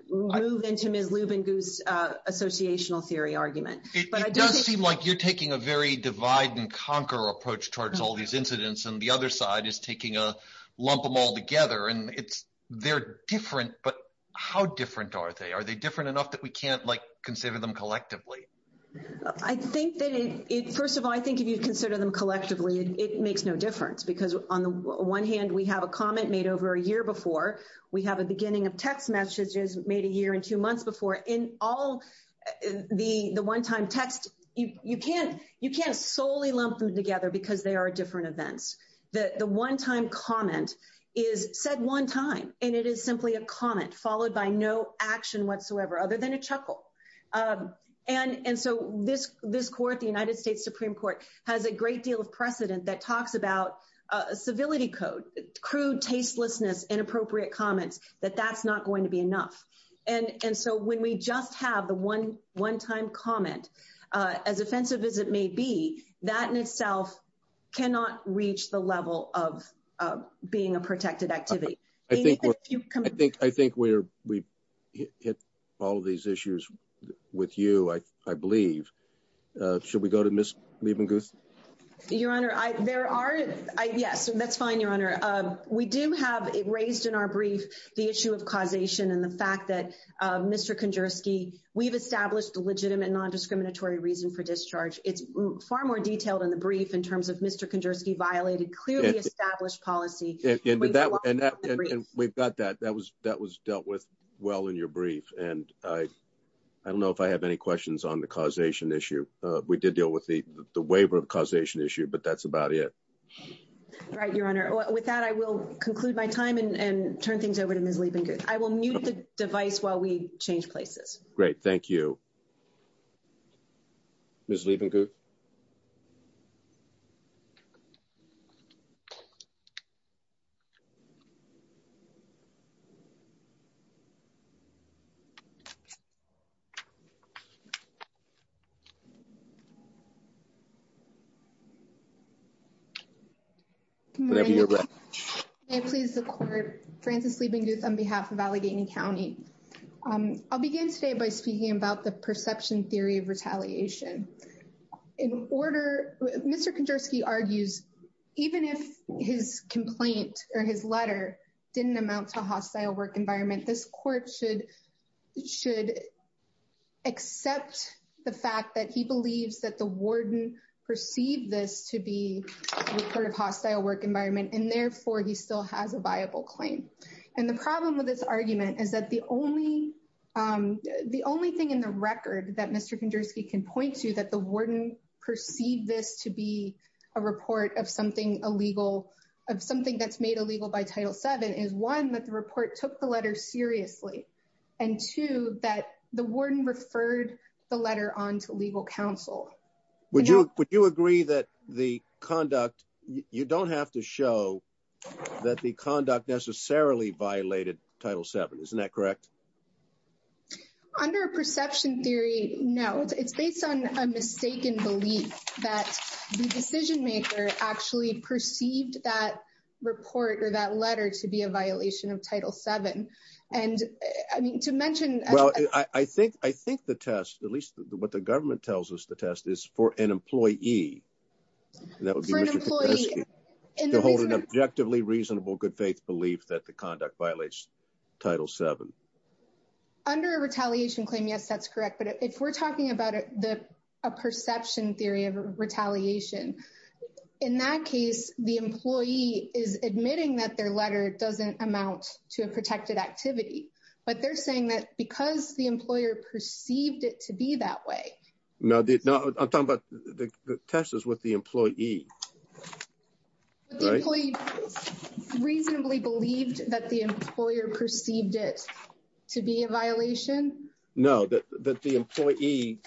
move into Ms. Lievengut's associational theory argument. It does seem like you're taking a very divide-and-conquer approach towards all these incidents and the other side is taking a lump them all together and they're different, but how different are they? Are they different enough that we can't like consider them collectively? I think that it—first of all, I think if you consider them collectively, it makes no difference because on the one hand, we have a comment made over a year before. We have a beginning of text messages made a year and two months before. In all the one-time texts, you can't solely lump them together because they are different events. The one-time comment is said one time and it is simply a comment followed by no action whatsoever other than a chuckle. And so this Court, the United States Supreme Court, has a great deal of precedent that talks about civility codes, crude tastelessness, inappropriate comments, that that's not going to be enough. And so when we just have the one-time comment, as offensive as it may be, that in itself cannot reach the level of being a protected activity. I think we've hit all these issues with you, I believe. Should we go to Ms. Lievengut? Your Honor, there are—yes, that's fine, Your Honor. We do have raised in our brief the issue of causation and the fact that, Mr. Kondersky, we've established a legitimate non-discriminatory reason for discharge. It's far more detailed in the brief in terms of Mr. Kondersky violated clearly established policy— And we've got that. That was dealt with well in your brief. And I don't know if I have any questions on the causation issue. We did deal with the waiver of causation issue, but that's about it. Right, Your Honor. With that, I will conclude my time and turn things over to Ms. Lievengut. I will mute the device while we change places. Great. Thank you. Ms. Lievengut? May I please report? Frances Lievengut on behalf of Allegheny County. I'll begin today by speaking about the perception theory of retaliation. In order—Mr. Kondersky argues even if his complaint or his letter didn't amount to retaliation, he still believes that the warden perceived this to be a sort of hostile work environment, and therefore he still has a viable claim. And the problem with this argument is that the only thing in the record that Mr. Kondersky can point to that the warden perceived this to be a report of something illegal, of something that's made illegal by Title VII is, one, that the report took the letter seriously, and, two, that the warden referred the letter on to legal counsel. Would you agree that the conduct—you don't have to show that the conduct necessarily violated Title VII. Isn't that correct? Under a perception theory, no. It's based on a mistaken belief that the decision-maker actually perceived that report or that letter to be a violation of Title VII. And to mention— Well, I think the test, at least what the government tells us the test, is for an employee. For an employee— To hold an objectively reasonable good faith belief that the conduct violates Title VII. Under a retaliation claim, yes, that's correct. But if we're talking about a perception theory of retaliation, in that case, the employee is admitting that their letter doesn't amount to a protected activity. But they're saying that because the employer perceived it to be that way— No, I'm talking about the test is with the employee, right? The employee reasonably believed that the employer perceived it to be a violation? No, that the employee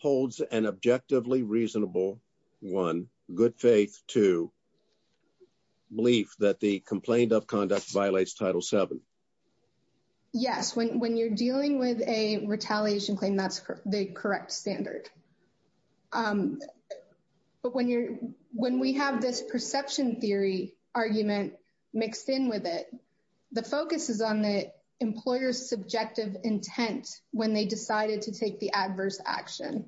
holds an objectively reasonable, one, good faith, two, belief that the complaint of conduct violates Title VII. Yes, when you're dealing with a retaliation claim, that's the correct standard. But when you're, when we have this perception theory argument mixed in with it, the focus is on the employer's subjective intent when they decided to take the adverse action.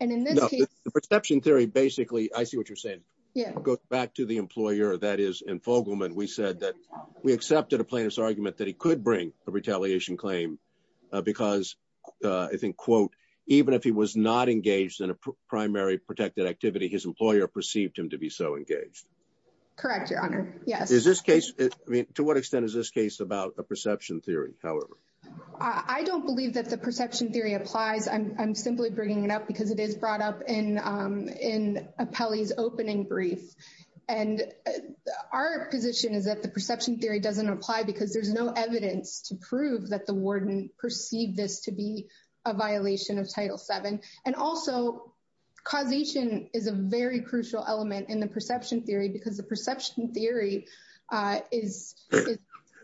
And in this case— The perception theory, basically, I see what you're saying. Yeah. Back to the employer, that is, in Fogelman, we said that we accepted a plaintiff's argument that he could bring a retaliation claim because, I think, quote, even if he was not engaged in a primary protected activity, his employer perceived him to be so engaged. Correct, Your Honor, yes. Is this case, I mean, to what extent is this case about a perception theory, however? I don't believe that the perception theory applies. I'm simply bringing it up because it is brought up in Apelli's opening brief. And our position is that the perception theory doesn't apply because there's no evidence to prove that the warden perceived this to be a violation of Title VII. And also, causation is a very crucial element in the perception theory, because the perception theory is,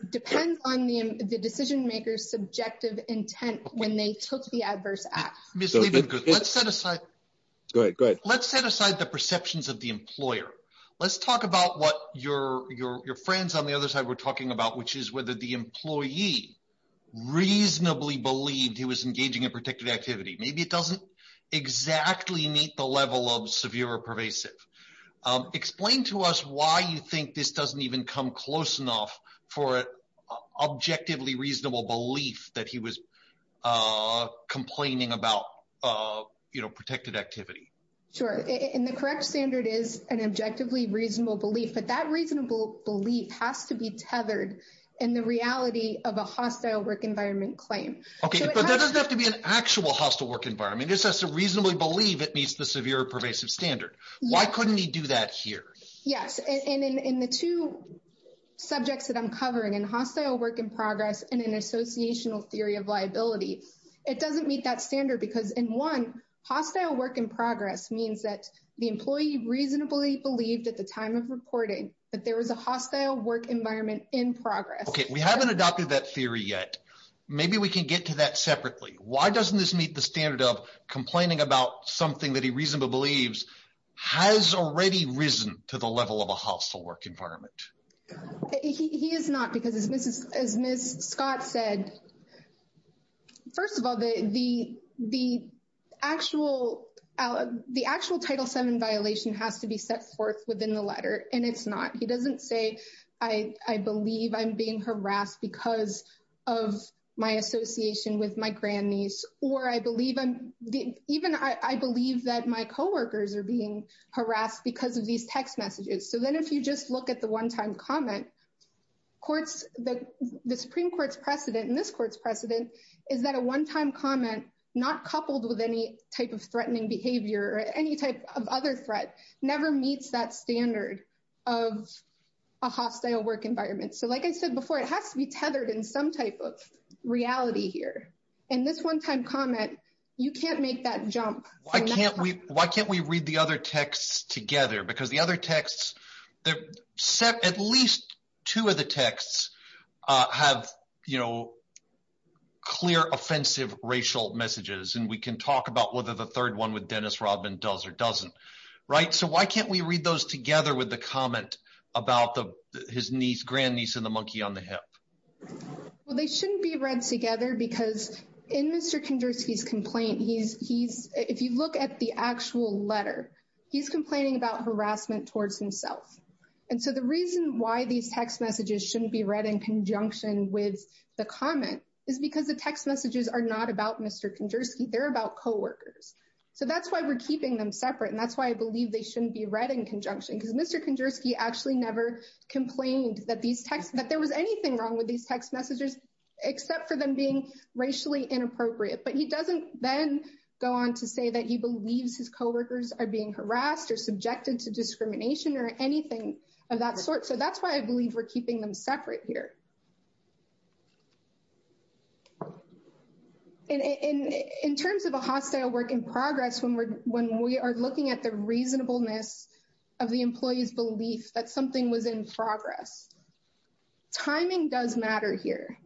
depends on the decision maker's subjective intent when they took the adverse act. Mr. Regan, let's set aside— Go ahead, go ahead. Let's talk about what your friends on the other side were talking about, which is whether the employee reasonably believed he was engaging in protected activity. Maybe it doesn't exactly meet the level of severe or pervasive. Explain to us why you think this doesn't even come close enough for an objectively reasonable belief that he was complaining about protected activity. Sure, and the correct standard is an objectively reasonable belief. But that reasonable belief has to be tethered in the reality of a hostile work environment claim. Okay, but that doesn't have to be an actual hostile work environment. It just has to reasonably believe it meets the severe or pervasive standard. Why couldn't he do that here? Yes, and in the two subjects that I'm covering, in hostile work in progress and in associational theory of liability, it doesn't meet that standard. In one, hostile work in progress means that the employee reasonably believed at the time of reporting that there was a hostile work environment in progress. Okay, we haven't adopted that theory yet. Maybe we can get to that separately. Why doesn't this meet the standard of complaining about something that he reasonably believes has already risen to the level of a hostile work environment? He is not, because as Ms. Scott said, first of all, the actual Title VII violation has to be set forth within the letter, and it's not. He doesn't say, I believe I'm being harassed because of my association with my grandniece, or I believe that my coworkers are being harassed because of these text messages. So then if you just look at the one-time comment, the Supreme Court's precedent and this court's precedent is that a one-time comment not coupled with any type of threatening behavior or any type of other threat never meets that standard of a hostile work environment. So like I said before, it has to be tethered in some type of reality here, and this one-time comment, you can't make that jump. Why can't we read the other texts together? Because the other texts, at least two of the texts have clear offensive racial messages, and we can talk about whether the third one with Dennis Robbin does or doesn't. So why can't we read those together with the comment about his niece, grandniece, and the monkey on the hip? Well, they shouldn't be read together because in Mr. Kondraski's complaint, if you look at the actual letter, he's complaining about harassment towards himself. And so the reason why these text messages shouldn't be read in conjunction with the comment is because the text messages are not about Mr. Kondraski, they're about coworkers. So that's why we're keeping them separate, and that's why I believe they shouldn't be read in conjunction because Mr. Kondraski actually never complained that there was anything wrong with these text messages except for them being racially inappropriate. But he doesn't then go on to say that he believes his coworkers are being harassed or subjected to discrimination or anything of that sort. So that's why I believe we're keeping them separate here. And in terms of a hostile work in progress, when we are looking at the reasonableness of the employee's belief that something was in progress, timing does matter here.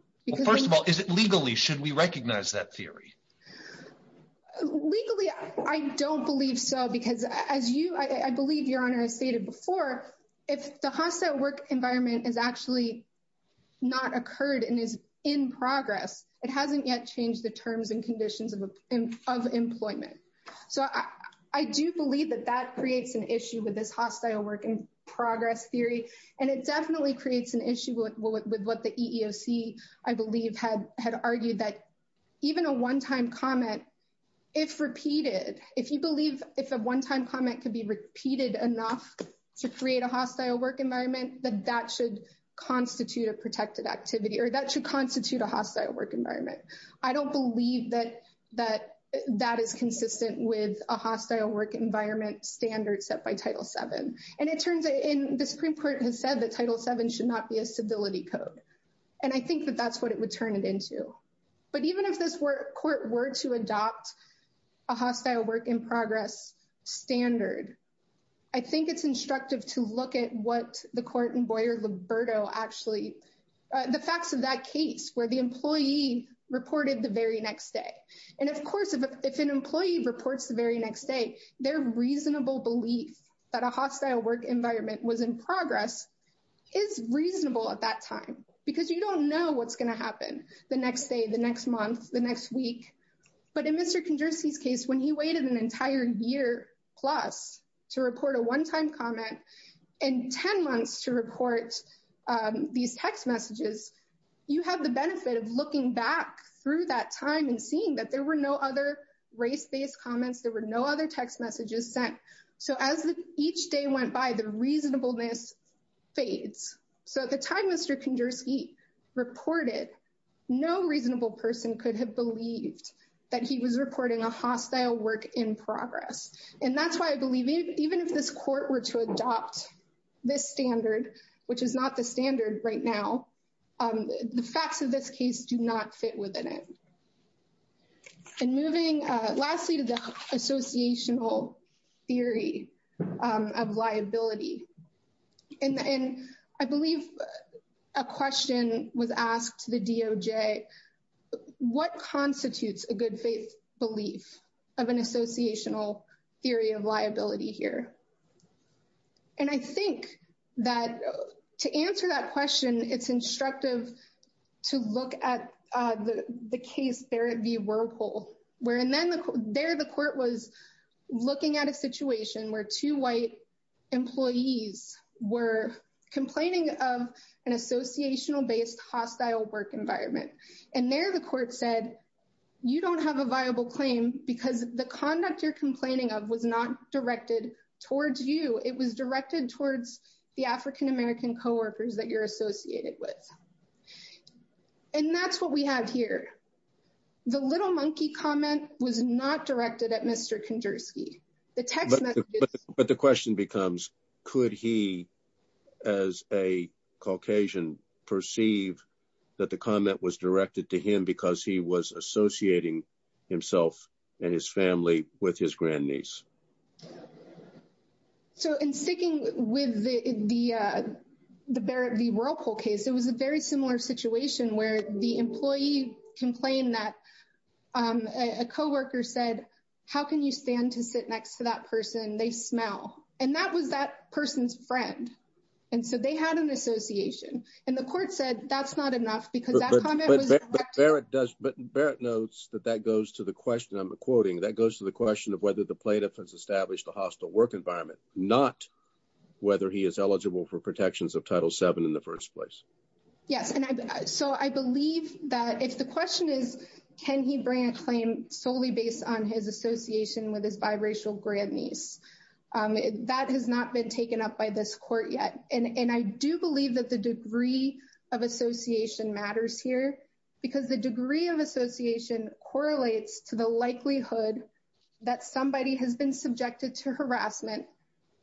First of all, is it legally? Should we recognize that theory? Legally, I don't believe so, because as you, I believe Your Honor stated before, the hostile work environment has actually not occurred and is in progress. It hasn't yet changed the terms and conditions of employment. So I do believe that that creates an issue with this hostile work in progress theory, and it definitely creates an issue with what the EEOC, I believe, had argued that even a one-time comment, if repeated, if you believe if a one-time comment could be repeated enough to create a hostile work environment, then that should constitute a protected activity, or that should constitute a hostile work environment. I don't believe that that is consistent with a hostile work environment standard set by Title VII. And it turns out, and the Supreme Court has said that Title VII should not be a stability code. And I think that that's what it would turn it into. But even if this court were to adopt a hostile work in progress standard, I think it's instructive to look at what the court in Boyer-Liberto actually, the facts of that case, where the employee reported the very next day. And of course, if an employee reports the very next day, their reasonable belief that a hostile work environment was in progress is reasonable at that time, because you don't know what's going to happen the next day, the next month, the next week. But in Mr. Kondrowski's case, when he waited an entire year plus to report a one-time comment, and 10 months to report these text messages, you have the benefit of looking back through that time and seeing that there were no other race-based comments. There were no other text messages sent. So as each day went by, the reasonableness phased. So at the time Mr. Kondrowski reported, no reasonable person could have believed that he was reporting a hostile work in progress. And that's why I believe even if this court were to adopt this standard, which is not the standard right now, the facts of this case do not fit within it. And moving lastly to the associational theory of liability. And I believe a question was asked to the DOJ, what constitutes a good faith belief of an associational theory of liability here? And I think that to answer that question, it's instructive to look at the case where there the court was looking at a situation where two white employees were complaining of an associational-based hostile work environment. And there the court said, you don't have a viable claim because the conduct you're complaining of was not directed towards you. It was directed towards the African-American co-workers that you're associated with. And that's what we have here. The little monkey comment was not directed at Mr. Kondrowski. But the question becomes, could he as a Caucasian perceive that the comment was directed to him because he was associating himself and his family with his grandniece? So, in sticking with the Barrett v. Whirlpool case, it was a very similar situation where the employee complained that a co-worker said, how can you stand to sit next to that person? They smell. And that was that person's friend. And so, they had an association. And the court said, that's not enough because that comment was directed to him. But Barrett notes that that goes to the question, I'm quoting, that goes to the question of whether the plaintiff has established a hostile work environment, not whether he is eligible for protections of Title VII in the first place. Yes. And so, I believe that if the question is, can he bring a claim solely based on his association with his biracial grandniece? That has not been taken up by this court yet. And I do believe that the degree of association matters here because the degree of association correlates to the likelihood that somebody has been subjected to harassment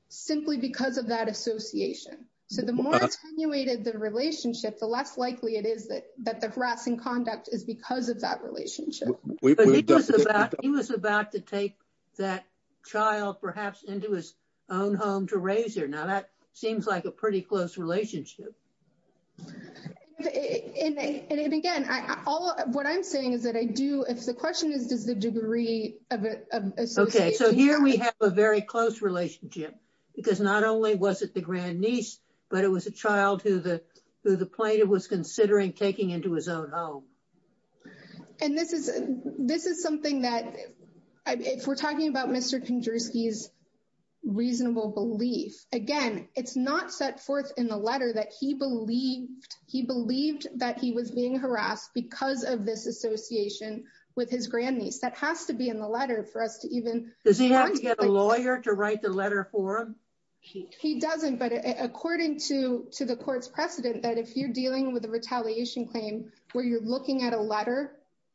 simply because of that association. So, the more attenuated the relationship, the less likely it is that the harassment conduct is because of that relationship. He was about to take that child perhaps into his own home to raise her. Now, that seems like a pretty close relationship. And, again, what I'm saying is that I do, if the question is, does the degree of association- Okay. So, here we have a very close relationship because not only was it the grandniece, but it was a child who the plaintiff was considering taking into his own home. And this is something that, if we're talking about Mr. Kondruski's reasonable belief, again, it's not set forth in the letter that he believed that he was being harassed because of this association with his grandniece. That has to be in the letter for us to even- Does he have to get a lawyer to write the letter for him? He doesn't. But according to the court's precedent, that if you're dealing with a retaliation claim where you're looking at a letter,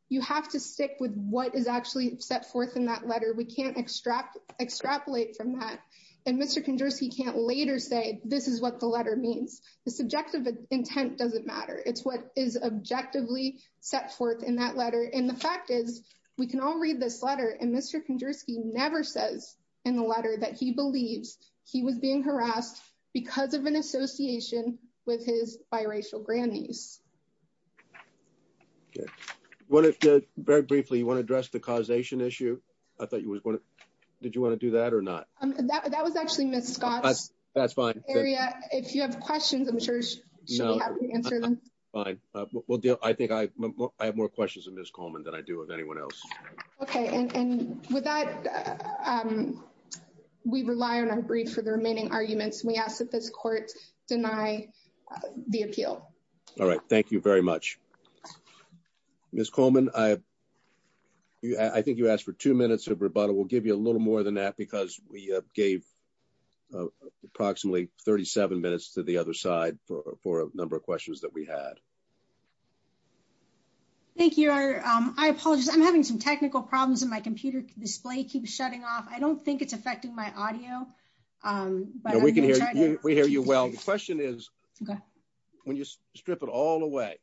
you have to stick with what is actually set forth in that letter. We can't extrapolate from that. And Mr. Kondruski can't later say, this is what the letter means. The subjective intent doesn't matter. It's what is objectively set forth in that letter. And the fact is, we can all read this letter, and Mr. Kondruski never says in the letter that he believes he was being harassed because of an association with his biracial grandniece. Very briefly, you want to address the causation issue? I thought you was going to- Did you want to do that or not? That was actually Ms. Scott's area. If you have questions, I'm sure she'll be happy to answer them. Fine. I think I have more questions of Ms. Coleman than I do of anyone else. OK. And with that, we rely on our brief for the remaining arguments. We ask that this court deny the appeal. All right. Thank you very much. Ms. Coleman, I think you asked for two minutes of rebuttal. We'll give you a little more than that because we gave approximately 37 minutes to the other side for a number of questions that we had. Thank you. I apologize. I'm having some technical problems and my computer display keeps shutting off. I don't think it's affecting my audio. We hear you well. The question is, when you strip it all away,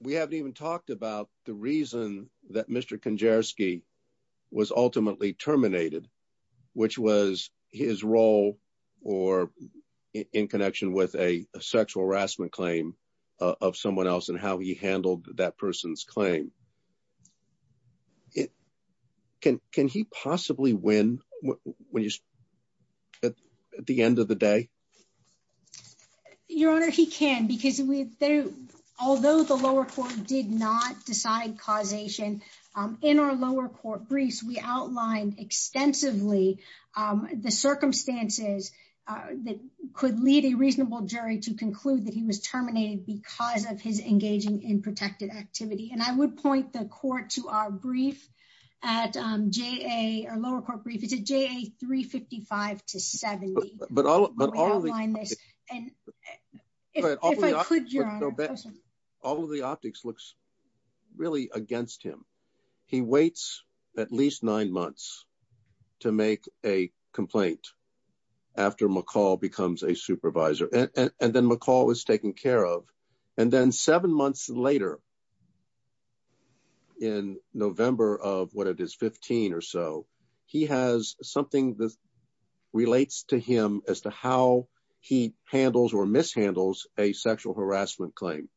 we haven't even talked about the reason that Mr. Kanjarski was ultimately terminated, which was his role or in connection with a sexual harassment claim of someone else and how he handled that person's claim. Can he possibly win at the end of the day? Your Honor, he can because although the lower court did not decide causation, in our lower court briefs, we outlined extensively the circumstances that could lead a reasonable jury to conclude that he was terminated because of his engaging in protective activity. And I would point the court to our brief at JA, our lower court brief, it's at JA 355 to 70. But all of the optics looks really against him. He waits at least nine months to make a complaint after McCall becomes a supervisor. And then McCall is taken care of. And then seven months later, in November of when it is 15 or so, he has something that relates to him as to how he handles or mishandles a sexual harassment claim.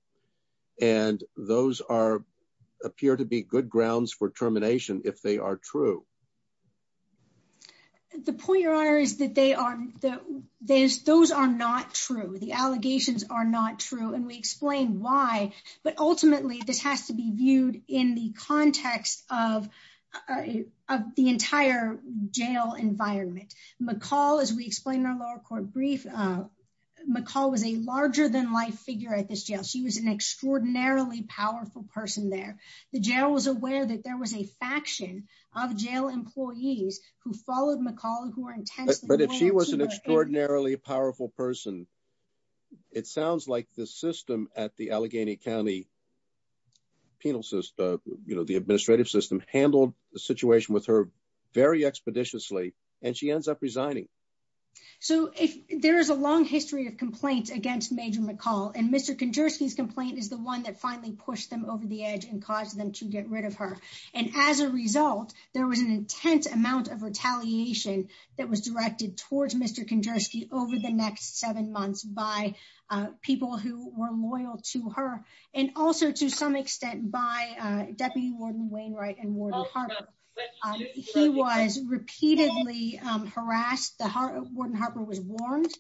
And those appear to be good grounds for termination if they are true. The point, Your Honor, is that those are not true. The allegations are not true. And we explain why. But ultimately, this has to be viewed in the context of the entire jail environment. McCall, as we explained in our lower court brief, McCall was a larger-than-life figure at this jail. She was an extraordinarily powerful person there. The jail was aware that there was a faction of jail employees who followed McCall and who were intent on- But if she was an extraordinarily powerful person, it sounds like the system at the Allegheny County penal system, you know, the administrative system, handled the situation with her very expeditiously. And she ends up resigning. So there is a long history of complaints against Major McCall. And Mr. Kondrzewski's complaint is the one that finally pushed them over the edge and caused them to get rid of her. And as a result, there was an intense amount of retaliation that was directed towards Mr. Kondrzewski over the next seven months by people who were loyal to her and also to some extent by Deputy Warden Wainwright and Warden Harper. He was repeatedly harassed. The Warden Harper was warned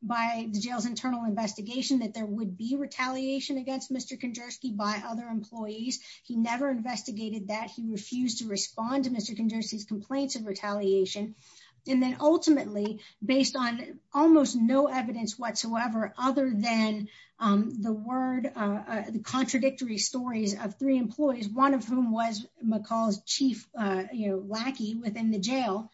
by the jail's internal investigation that there would be retaliation against Mr. Kondrzewski by other employees. He never investigated that. He refused to respond to Mr. Kondrzewski's complaints of retaliation. And then ultimately, based on almost no evidence whatsoever, other than the contradictory stories of three employees, one of whom was McCall's chief lackey within the jail,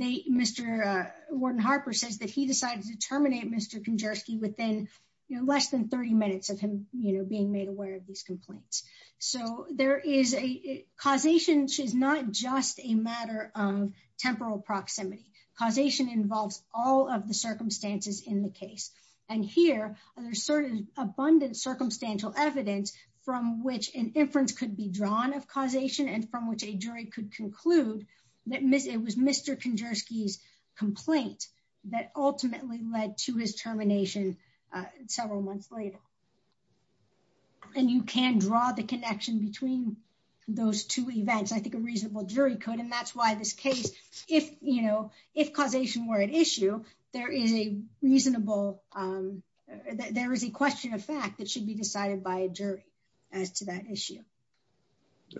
Mr. Warden Harper said that he decided to terminate Mr. Kondrzewski within less than 30 minutes of him being made aware of these complaints. So causation is not just a matter of temporal proximity. Causation involves all of the circumstances in the case. And here, there's sort of abundant circumstantial evidence from which an inference could be drawn of causation and from which a jury could conclude that it was Mr. Kondrzewski's complaint that ultimately led to his termination several months later. And you can draw the connection between those two events. I think a reasonable jury could. And that's why this case, if causation were an issue, there is a reasonable, there is a question of fact that should be decided by a jury as to that issue.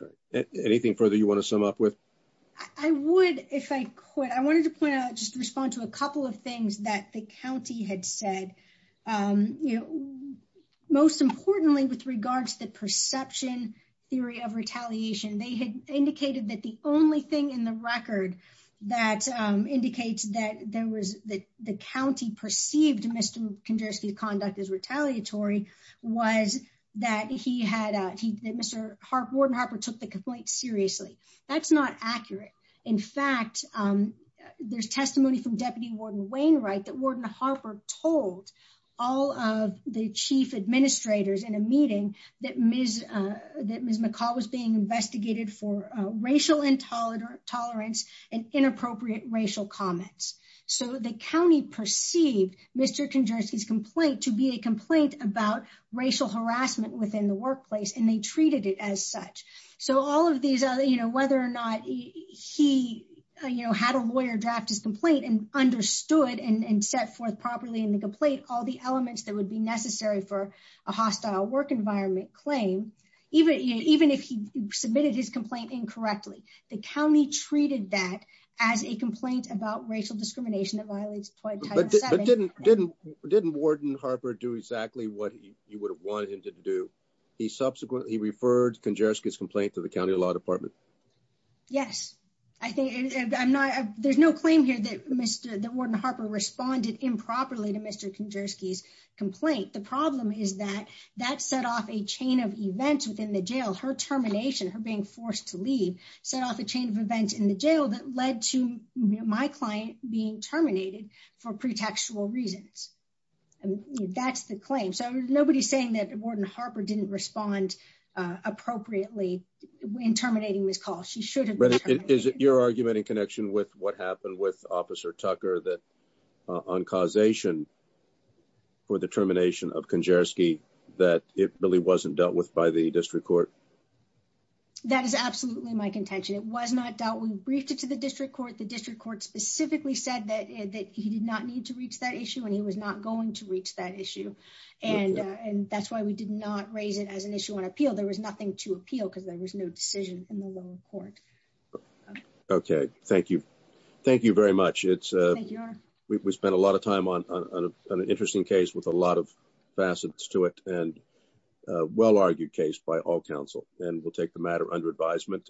All right. Anything further you want to sum up with? I would, if I could. I wanted to point out, just respond to a couple of things that the county had said. Most importantly, with regards to the perception theory of retaliation, they had indicated that the only thing in the record that indicates that there was, that the county perceived Mr. Kondrzewski's conduct as retaliatory was that he had, that Mr. Warden Harper took the complaint seriously. That's not accurate. In fact, there's testimony from Deputy Warden Wainwright that Warden Harper told all of the chief administrators in a meeting that Ms. McCall was being investigated for racial intolerance and inappropriate racial comments. So the county perceived Mr. Kondrzewski's complaint to be a complaint about racial harassment within the workplace, and they treated it as such. So all of these, whether or not he had a lawyer draft his complaint and understood and set forth properly in the complaint all the elements that would be necessary for a hostile work environment claim, even if he submitted his complaint incorrectly, the county treated that as a complaint about racial discrimination that violates a toy type of setting. But didn't Warden Harper do exactly what you would have wanted him to do? He referred Kondrzewski's complaint to the county law department. Yes. There's no claim here that Warden Harper responded improperly to Mr. Kondrzewski's complaint. The problem is that that set off a chain of events within the jail. Her termination, her being forced to leave, set off a chain of events in the jail that led to my client being terminated for pretextual reasons. That's the claim. Nobody's saying that Warden Harper didn't respond appropriately in terminating his call. She should have. Is your argument in connection with what happened with Officer Tucker that on causation for the termination of Kondrzewski that it really wasn't dealt with by the district court? That is absolutely my contention. It was not dealt with. We briefed it to the district court. The district court specifically said that he did not need to reach that issue and he was not going to reach that issue. And that's why we did not raise it as an issue on appeal. There was nothing to appeal because there was no decision from the local court. Okay, thank you. Thank you very much. We spent a lot of time on an interesting case with a lot of facets to it and a well-argued case by all counsel. We'll take the matter under advisement.